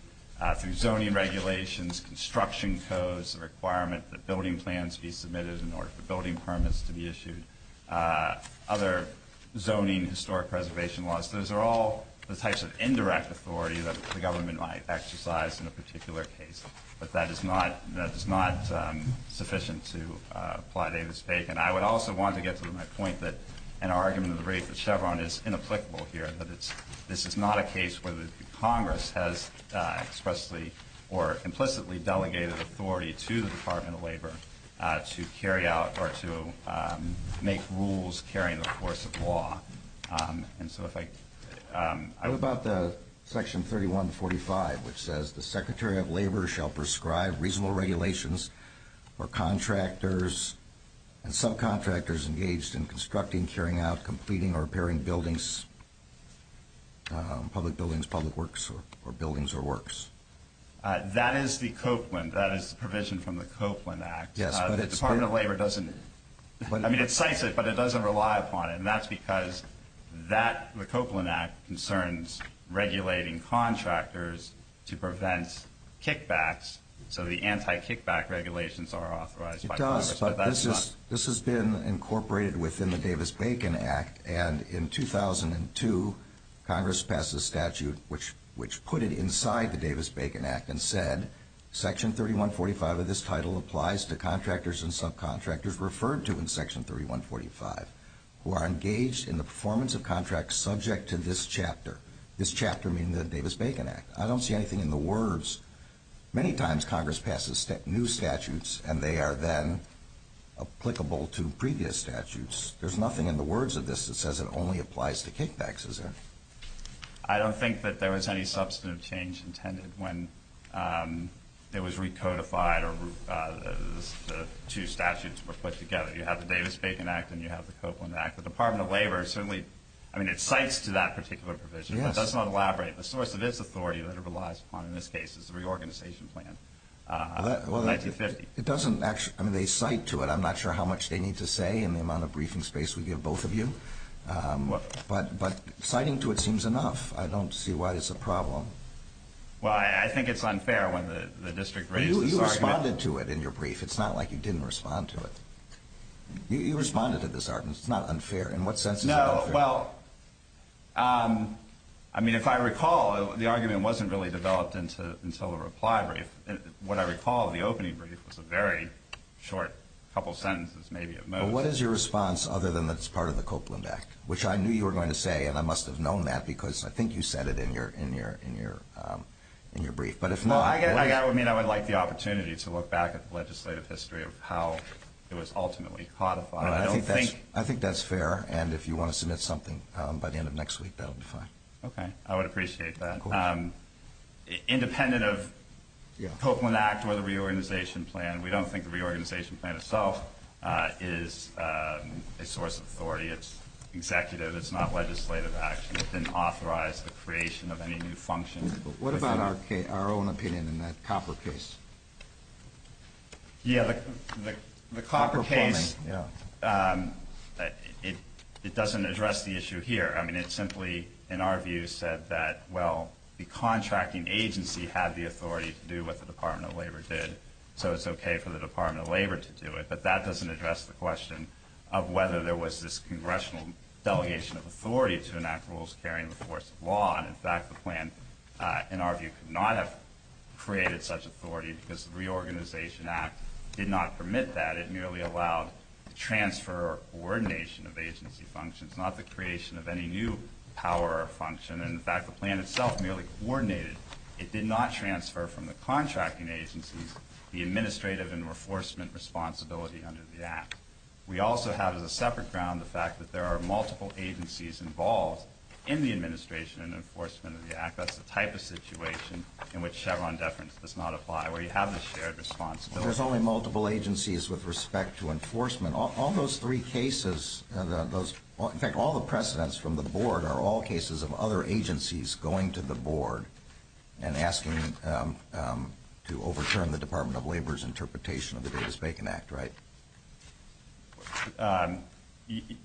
through zoning regulations, construction codes, the requirement that building plans be submitted in order for building permits to be issued, other zoning historic preservation laws. Those are all the types of indirect authority that the government might exercise in a particular case, but that is not sufficient to apply data stake. And I would also want to get to my point that an argument of the rate for Chevron is inapplicable here, that this is not a case where the Congress has expressly or implicitly delegated authority to the Department of Labor to carry out or to make rules carrying the course of law. And so if I – I'm about the section 3145, which says, the Secretary of Labor shall prescribe reasonable regulations for contractors and subcontractors engaged in constructing, carrying out, completing, or repairing buildings, public buildings, public works, or buildings or works. That is the Copeland. That is the provision from the Copeland Act. Yes, but the Department of Labor doesn't – I mean, it cites it, but it doesn't rely upon it, and that's because that – the Copeland Act concerns regulating contractors to prevent kickbacks, so the anti-kickback regulations are authorized by Congress. It does, but this has been incorporated within the Davis-Bacon Act, and in 2002, Congress passed a statute which put it inside the Davis-Bacon Act and said, section 3145 of this title applies to contractors and subcontractors referred to in section 3145 who are engaged in the performance of contracts subject to this chapter. This chapter means the Davis-Bacon Act. I don't see anything in the words. Many times Congress passes new statutes, and they are then applicable to previous statutes. There's nothing in the words of this that says it only applies to kickbacks, is there? I don't think that there was any substantive change intended when it was recodified or the two statutes were put together. You have the Davis-Bacon Act and you have the Copeland Act. The Department of Labor certainly – I mean, it cites to that particular provision. It does not elaborate. The source of its authority that it relies upon in this case is the reorganization plan of 1950. It doesn't actually – I mean, they cite to it. I'm not sure how much they need to say and the amount of briefing space we give both of you, but citing to it seems enough. I don't see why it's a problem. Well, I think it's unfair when the district raises the argument. You responded to it in your brief. It's not like you didn't respond to it. You responded to this argument. It's not unfair in what sense? No. Well, I mean, if I recall, the argument wasn't really developed until the reply brief. What I recall, the opening brief was a very short couple sentences, maybe at most. What is your response other than it's part of the Copeland Act, which I knew you were going to say, and I must have known that because I think you said it in your brief. Well, I mean, I would like the opportunity to look back at the legislative history of how it was ultimately codified. I think that's fair, and if you want to submit something by the end of next week, that will be fine. Okay. I would appreciate that. Independent of the Copeland Act or the reorganization plan, we don't think the reorganization plan itself is a source of authority. It's executive. It's not legislative, actually. It didn't authorize the creation of any new functions. What about our own opinion in the Copper case? Yeah, the Copper case, it doesn't address the issue here. I mean, it simply, in our view, said that, well, the contracting agency had the authority to do what the Department of Labor did, so it's okay for the Department of Labor to do it, but that doesn't address the question of whether there was this congressional delegation of authority to enact rules bearing the force of law, and, in fact, the plan, in our view, could not have created such authority because the reorganization act did not permit that. It merely allowed transfer or coordination of agency functions, not the creation of any new power or function, and, in fact, the plan itself merely coordinated. It did not transfer from the contracting agency the administrative and enforcement responsibility under the act. We also have, as a separate ground, the fact that there are multiple agencies involved in the administration and enforcement of the act. That's the type of situation in which Chevron deference does not apply, where you have the shared responsibility. There's only multiple agencies with respect to enforcement. All those three cases, in fact, all the precedents from the board are all cases of other agencies going to the board and asking to overturn the Department of Labor's interpretation of the Davis-Bacon Act, right?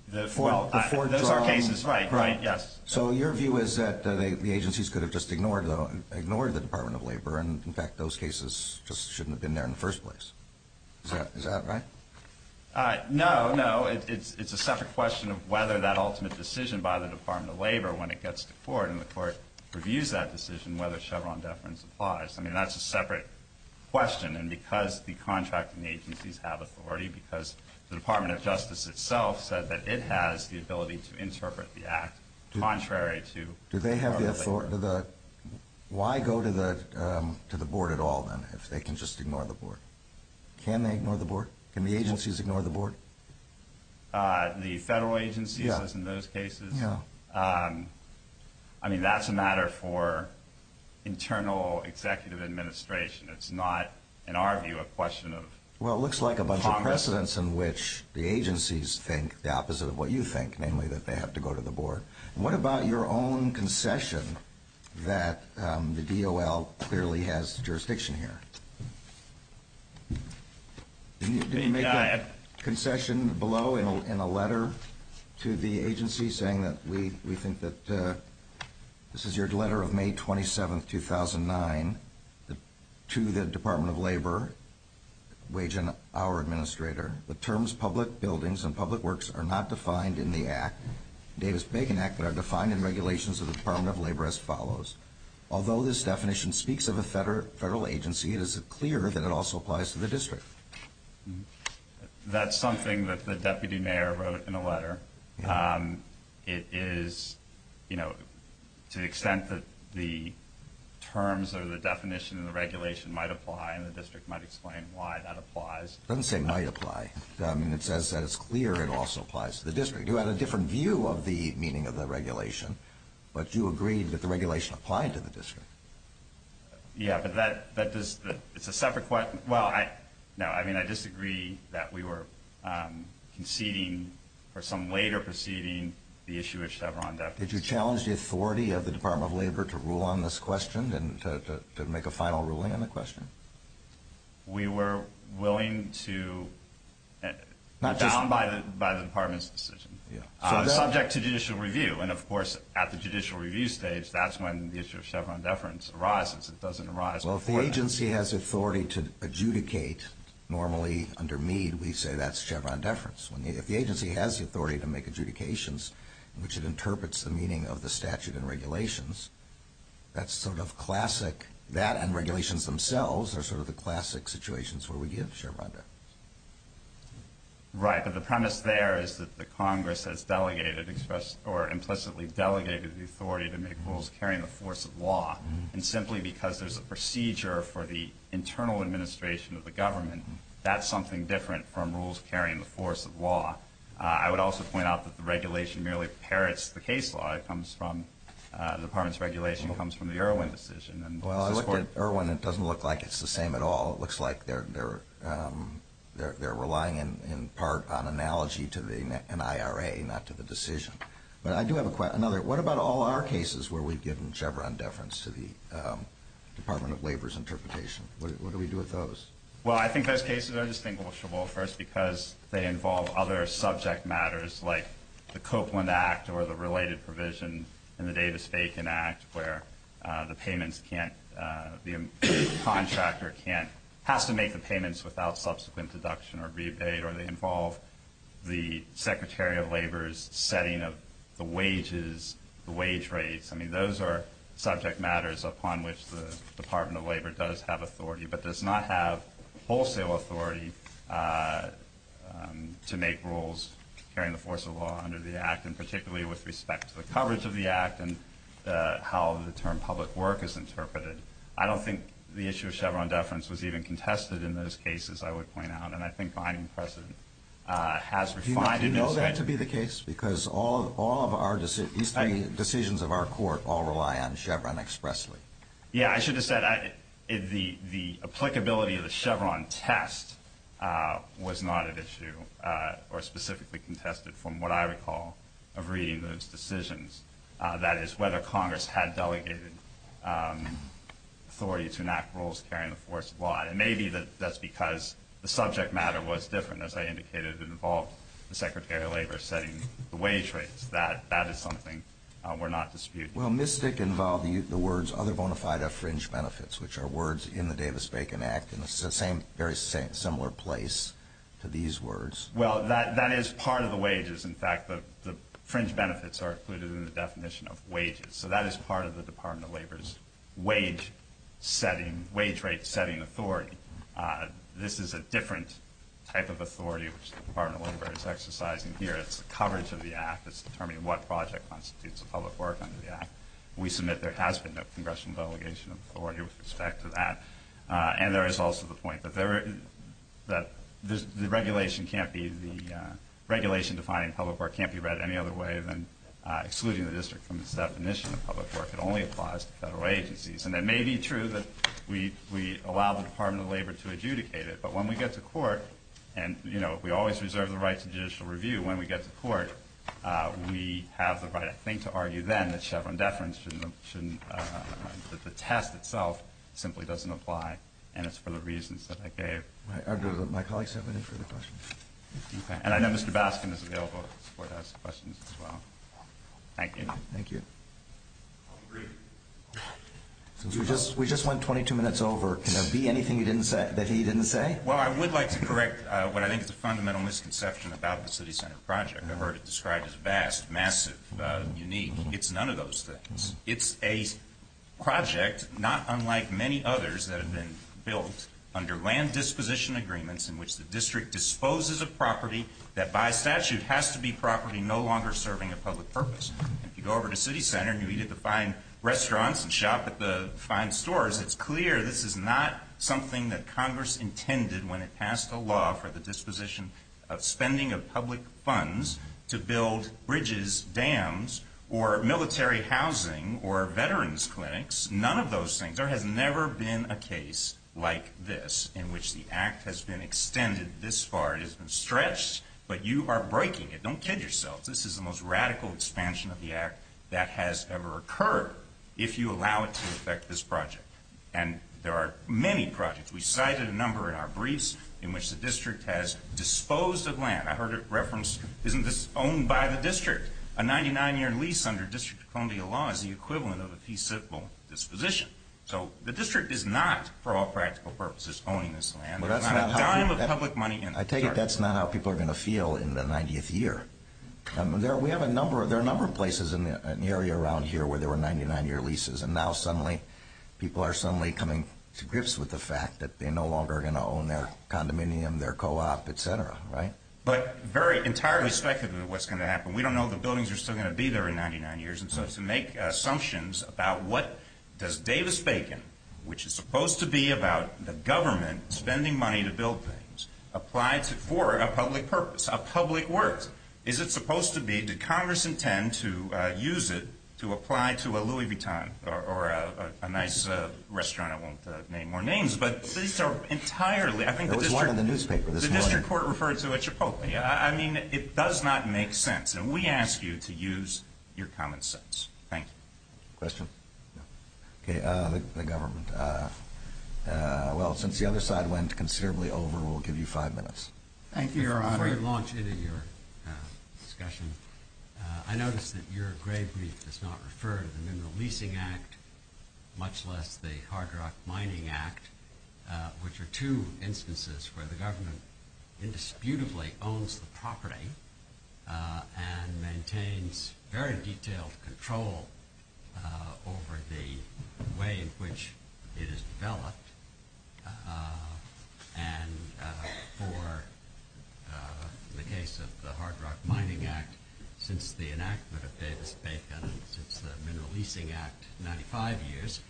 Those are cases, right, yes. So your view is that the agencies could have just ignored the Department of Labor, and, in fact, those cases just shouldn't have been there in the first place. Is that right? No, no. It's a separate question of whether that ultimate decision by the Department of Labor, when it gets to the court and the court reviews that decision, whether Chevron deference applies. I mean, that's a separate question, and because the contracting agencies have authority, because the Department of Justice itself said that it has the ability to interpret the act contrary to part of the act. Why go to the board at all, then, if they can just ignore the board? Can they ignore the board? Can the agencies ignore the board? The federal agencies, in those cases, I mean, that's a matter for internal executive administration. It's not, in our view, a question of Congress. Well, it looks like a bunch of precedents in which the agencies think the opposite of what you think, namely that they have to go to the board. What about your own concession that the DOL clearly has jurisdiction here? Did you make a concession below in a letter to the agency saying that we think that this is your letter of May 27, 2009, to the Department of Labor, waging our administrator, the terms public buildings and public works are not defined in the Davis-Bacon Act, but are defined in regulations of the Department of Labor as follows. Although this definition speaks of a federal agency, is it clear that it also applies to the district? That's something that the deputy mayor wrote in a letter. It is, you know, to the extent that the terms or the definition of the regulation might apply and the district might explain why that applies. It doesn't say might apply. I mean, it says that it's clear it also applies to the district. You had a different view of the meaning of the regulation, but you agreed that the regulation applied to the district. Yeah, but that is a separate question. Well, no, I mean, I disagree that we were conceding for some later proceeding the issue of Chevron. Did you challenge the authority of the Department of Labor to rule on this question and to make a final ruling on the question? We were willing to, bound by the department's decision, subject to judicial review, and, of course, at the judicial review stage, that's when the issue of Chevron deference arises. It doesn't arise for us. Well, if the agency has authority to adjudicate, normally, under me, we say that's Chevron deference. If the agency has the authority to make adjudications, which it interprets the meaning of the statute and regulations, that's sort of classic. That and regulations themselves are sort of the classic situations where we give Chevron deference. Right, but the premise there is that the Congress has delegated or implicitly delegated the authority to make rules carrying the force of law, and simply because there's a procedure for the internal administration of the government, that's something different from rules carrying the force of law. I would also point out that the regulation merely parrots the case law. The department's regulation comes from the Irwin decision. Well, I looked at Irwin. It doesn't look like it's the same at all. It looks like they're relying in part on analogy to an IRA, not to the decision. But I do have a question. What about all our cases where we give Chevron deference to the Department of Labor's interpretation? What do we do with those? Well, I think those cases are distinguishable, first, because they involve other subject matters, like the Copeland Act or the related provision in the Davis-Bacon Act, where the contractor has to make the payments without subsequent deduction or rebate, or they involve the Secretary of Labor's setting of the wages, the wage rates. I mean, those are subject matters upon which the Department of Labor does have authority but does not have wholesale authority to make rules carrying the force of law under the Act, and particularly with respect to the coverage of the Act and how the term public work is interpreted. I don't think the issue of Chevron deference was even contested in those cases, I would point out, and I think finding precedent has required it. Do you know that to be the case? Because all of our decisions of our court all rely on Chevron expressly. Yeah, I should have said the applicability of the Chevron test was not at issue or specifically contested from what I recall of reading those decisions. That is, whether Congress had delegated authority to enact rules carrying the force of law, and maybe that's because the subject matter was different, as I indicated, that involved the Secretary of Labor setting the wage rates. That is something we're not disputing. Well, Ms. Dick involved the words, other bona fide or fringe benefits, which are words in the Davis-Bacon Act, and this is a very similar place to these words. Well, that is part of the wages. In fact, the fringe benefits are included in the definition of wages, so that is part of the Department of Labor's wage rate setting authority. This is a different type of authority which the Department of Labor is exercising here. It's the coverage of the Act. It's determining what project constitutes public work under the Act. We submit there has been a congressional delegation of authority with respect to that, and there is also the point that the regulation defining public work can't be read any other way than excluding the district from the definition of public work. It only applies to federal agencies. And it may be true that we allow the Department of Labor to adjudicate it, but when we get to court, and we always reserve the right to judicial review, when we get to court, we have the right, I think, to argue then that the test itself simply doesn't apply, and it's for the reasons that they gave. My colleagues have an answer to the question. And I know Mr. Baskin is available for those questions as well. Thank you. Thank you. We just went 22 minutes over. Can there be anything that he didn't say? Well, I would like to correct what I think is a fundamental misconception about the city center project. I've heard it described as vast, massive, unique. It's none of those things. It's a project not unlike many others that have been built under land disposition agreements in which the district disposes of property that by statute has to be property no longer serving a public purpose. If you go over to city center and you needed to find restaurants and shop at the fine stores, it's clear this is not something that Congress intended when it passed a law for the disposition of spending of public funds to build bridges, dams, or military housing or veterans clinics, none of those things. There has never been a case like this in which the act has been extended this far. It has been stretched, but you are breaking it. Don't kid yourself. This is the most radical expansion of the act that has ever occurred if you allow it to affect this project. And there are many projects. We cited a number in our briefs in which the district has disposed of land. I heard it referenced this is owned by the district. A 99-year lease under District of Columbia law is the equivalent of a fee-civil disposition. So the district is not, for all practical purposes, owning this land. I tell you, that's not how people are going to feel in the 90th year. There are a number of places in the area around here where there were 99-year leases, and now suddenly people are suddenly coming to grips with the fact that they're no longer going to own their condominium, their co-op, et cetera, right? But very entirely speculative of what's going to happen. We don't know if the buildings are still going to be there in 99 years. So to make assumptions about what does Davis-Bacon, which is supposed to be about the government spending money to build things, apply for a public purpose, a public worth. Is it supposed to be, did Congress intend to use it to apply to a Louis Vuitton or a nice restaurant? I won't name more names, but these are entirely. I think the district court referred to it. I mean, it does not make sense. And we ask you to use your common sense. Thank you. Question? Okay. The government. Well, since the other side went considerably over, we'll give you five minutes. Thank you, Your Honor. A great launch into your discussion. I noticed that your grave reef does not refer to the Mineral Leasing Act, much less the Hard Rock Mining Act, which are two instances where the government indisputably owns the property and maintains very detailed control over the way in which it is developed. And for the case of the Hard Rock Mining Act, since the enactment of Davis-Bacon, the Mineral Leasing Act, 95 years,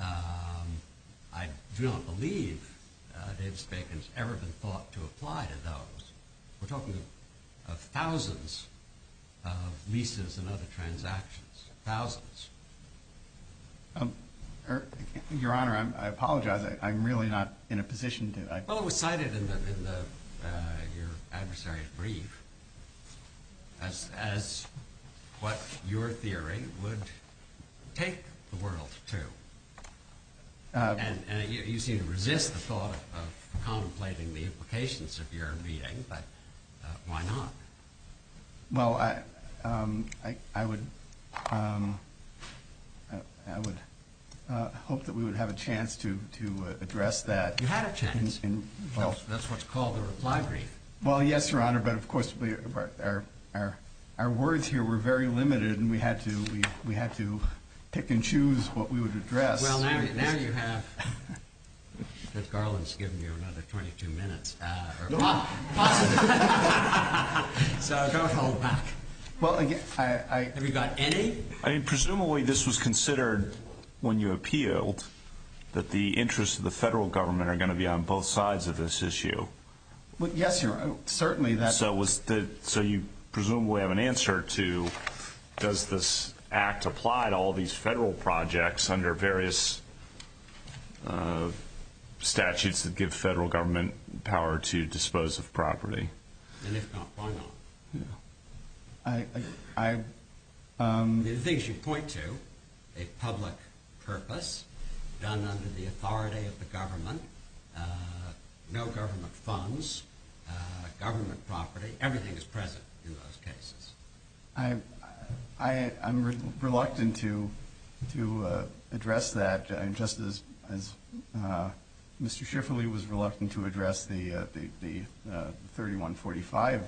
I don't believe Davis-Bacon has ever been thought to apply to those. We're talking of thousands of leases and other transactions. Thousands. Your Honor, I apologize. I'm really not in a position to. Well, it was cited in your adversary's brief as what your theory would take the world to. And you seem to resist the thought of contemplating the implications of your reading, but why not? Well, I would hope that we would have a chance to address that. That's what's called a reply brief. Well, yes, Your Honor, but of course, our words here were very limited, and we had to pick and choose what we would address. Well, now you have. Ms. Garland's given you another 22 minutes. No. So don't hold back. Have you got any? I mean, presumably this was considered when you appealed, that the interests of the federal government are going to be on both sides of this issue. Yes, Your Honor, certainly that's. So you presumably have an answer to does this act apply to all these federal projects under various statutes that give federal government power to dispose of property? And if not, why not? The things you point to, a public purpose done under the authority of the government, no government funds, government property, everything's present in those cases. I'm reluctant to address that, just as Mr. Schifferle was reluctant to address the 3145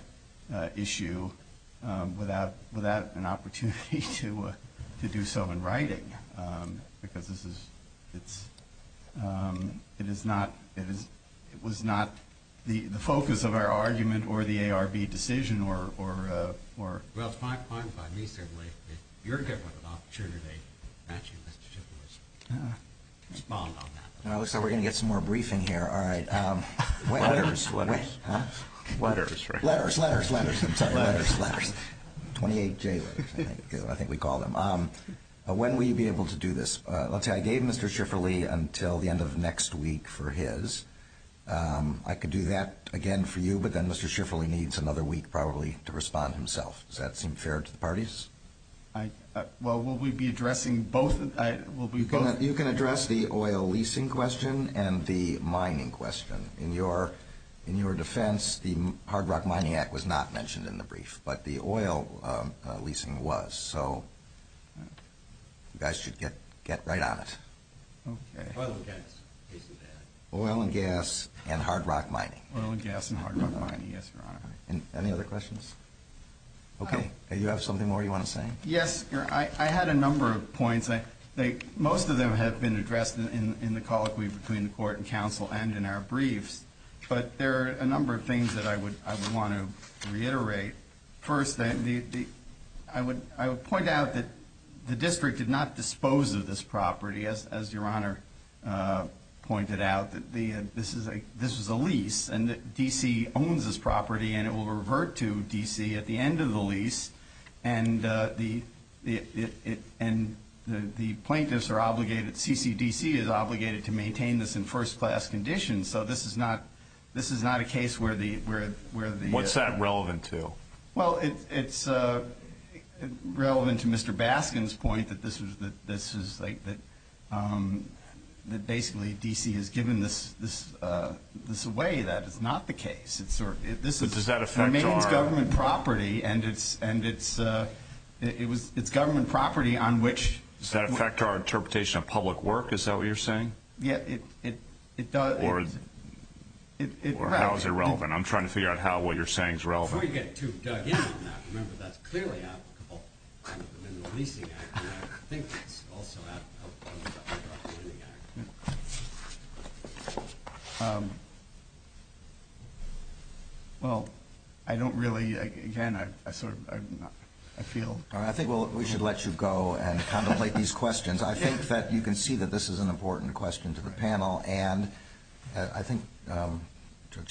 issue without an opportunity to do so in writing, because it was not the focus of our argument or the ARB decision. Well, it's my point, if I may, sir, that your government opportunity, actually, Mr. Schifferle, is involved on that. Well, it looks like we're going to get some more briefing here. All right. Letters. Letters. Letters. Letters. Letters. Letters. 28 days. I think we call them. When will you be able to do this? I'll tell you, I gave Mr. Schifferle until the end of next week for his. I could do that again for you, but then Mr. Schifferle needs another week probably to respond himself. Does that seem fair to the parties? Well, will we be addressing both? You can address the oil leasing question and the mining question. In your defense, the Hard Rock Mining Act was not mentioned in the brief, but the oil leasing was, so you guys should get right on it. Oil and gas. Oil and gas and hard rock mining. Oil and gas and hard rock mining, yes, Your Honor. Any other questions? Okay. Do you have something more you want to say? Yes, sir. I had a number of points. Most of them have been addressed in the colloquy between the court and counsel and in our briefs, but there are a number of things that I would want to reiterate. First, I would point out that the district did not dispose of this property, as Your Honor pointed out. This is a lease, and D.C. owns this property, and it will revert to D.C. at the end of the lease, and the plaintiffs are obligated, CCDC is obligated to maintain this in first-class condition, so this is not a case where the – What's that relevant to? Well, it's relevant to Mr. Baskin's point that this is – that basically D.C. has given this away. That is not the case. Does that affect our – It remains government property, and it's government property on which – Does that affect our interpretation of public work? Is that what you're saying? Yes, it does. Or how is it relevant? I'm trying to figure out how what you're saying is relevant. Before you get too diagnostic, I remember that clearly. Well, I don't really – again, I feel – I think we should let you go and contemplate these questions. I think that you can see that this is an important question to the panel, and I think to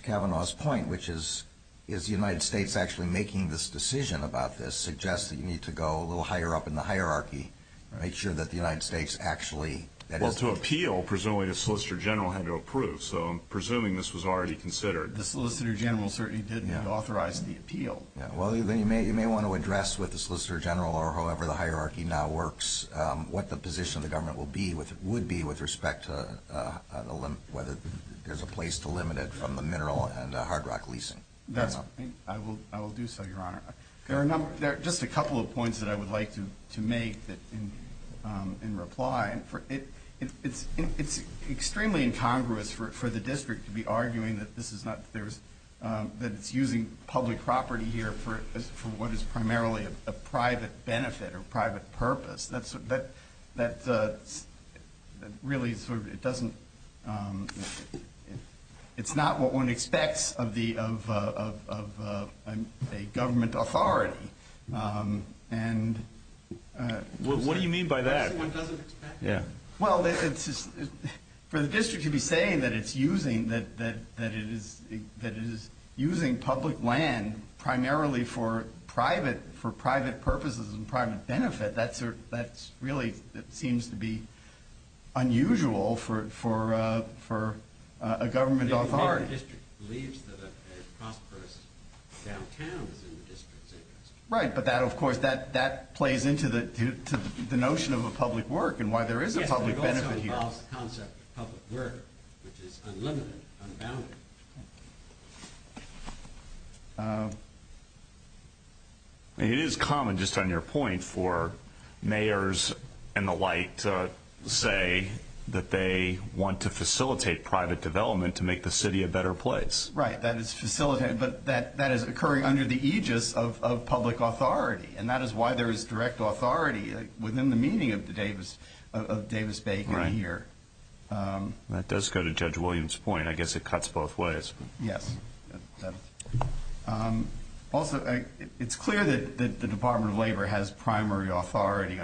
Kevin's point, which is, is the United States actually making this decision about this, suggests that you need to go a little higher up in the hierarchy and make sure that the United States actually – Well, to appeal, presumably the Solicitor General had to approve, so I'm presuming this was already considered. The Solicitor General certainly didn't have authorized the appeal. Well, you may want to address with the Solicitor General or however the hierarchy now works what the position of the government would be with respect to whether there's a place to limit it from a mineral and a hard rock leasing. I will do so, Your Honor. There are just a couple of points that I would like to make in reply. It's extremely incongruous for the district to be arguing that this is not – that it's using public property here for what is primarily a private benefit or private purpose. That really sort of – it doesn't – it's not what one expects of a government authority. What do you mean by that? Well, for the district to be saying that it's using public land primarily for private purposes and private benefit, that really seems to be unusual for a government authority. The district believes that a prosperous downtown is in the district. Right. But that, of course, that plays into the notion of a public work and why there is a public benefit here. The concept of public work, which is unlimited, unbounded. It is common, just on your point, for mayors and the like to say that they want to facilitate private development to make the city a better place. Right, that it's facilitated, but that is occurring under the aegis of public authority, and that is why there is direct authority within the meaning of Davis Bay here. That does go to Judge Williams' point. I guess it cuts both ways. Yes. Also, it's clear that the Department of Labor has primary authority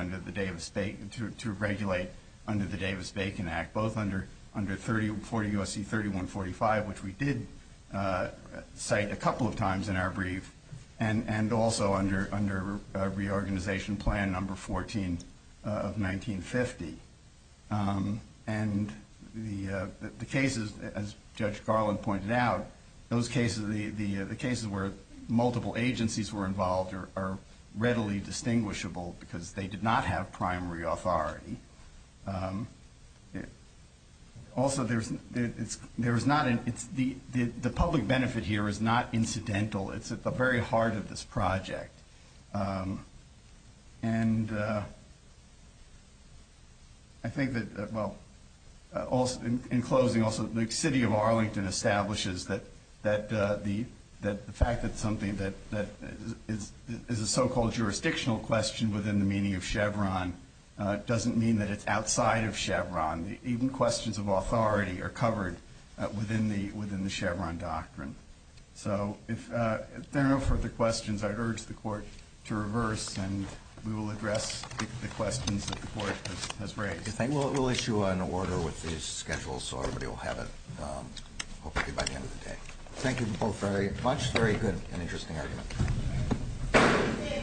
to regulate under the Davis-Bacon Act, both under 40 U.S.C. 3145, which we did cite a couple of times in our brief, and also under reorganization plan number 14 of 1950. And the cases, as Judge Garland pointed out, the cases where multiple agencies were involved are readily distinguishable because they did not have primary authority. Also, the public benefit here is not incidental. It's at the very heart of this project. And I think that, well, in closing, also the city of Arlington establishes that the fact that something that is a so-called jurisdictional question within the meaning of Chevron doesn't mean that it's outside of Chevron. Even questions of authority are covered within the Chevron doctrine. So if there are no further questions, I'd urge the Court to reverse and we will address the questions that the Court has raised. We'll issue an order with these schedules so everybody will have it hopefully by the end of the day. Thank you both very much. Very good and interesting argument.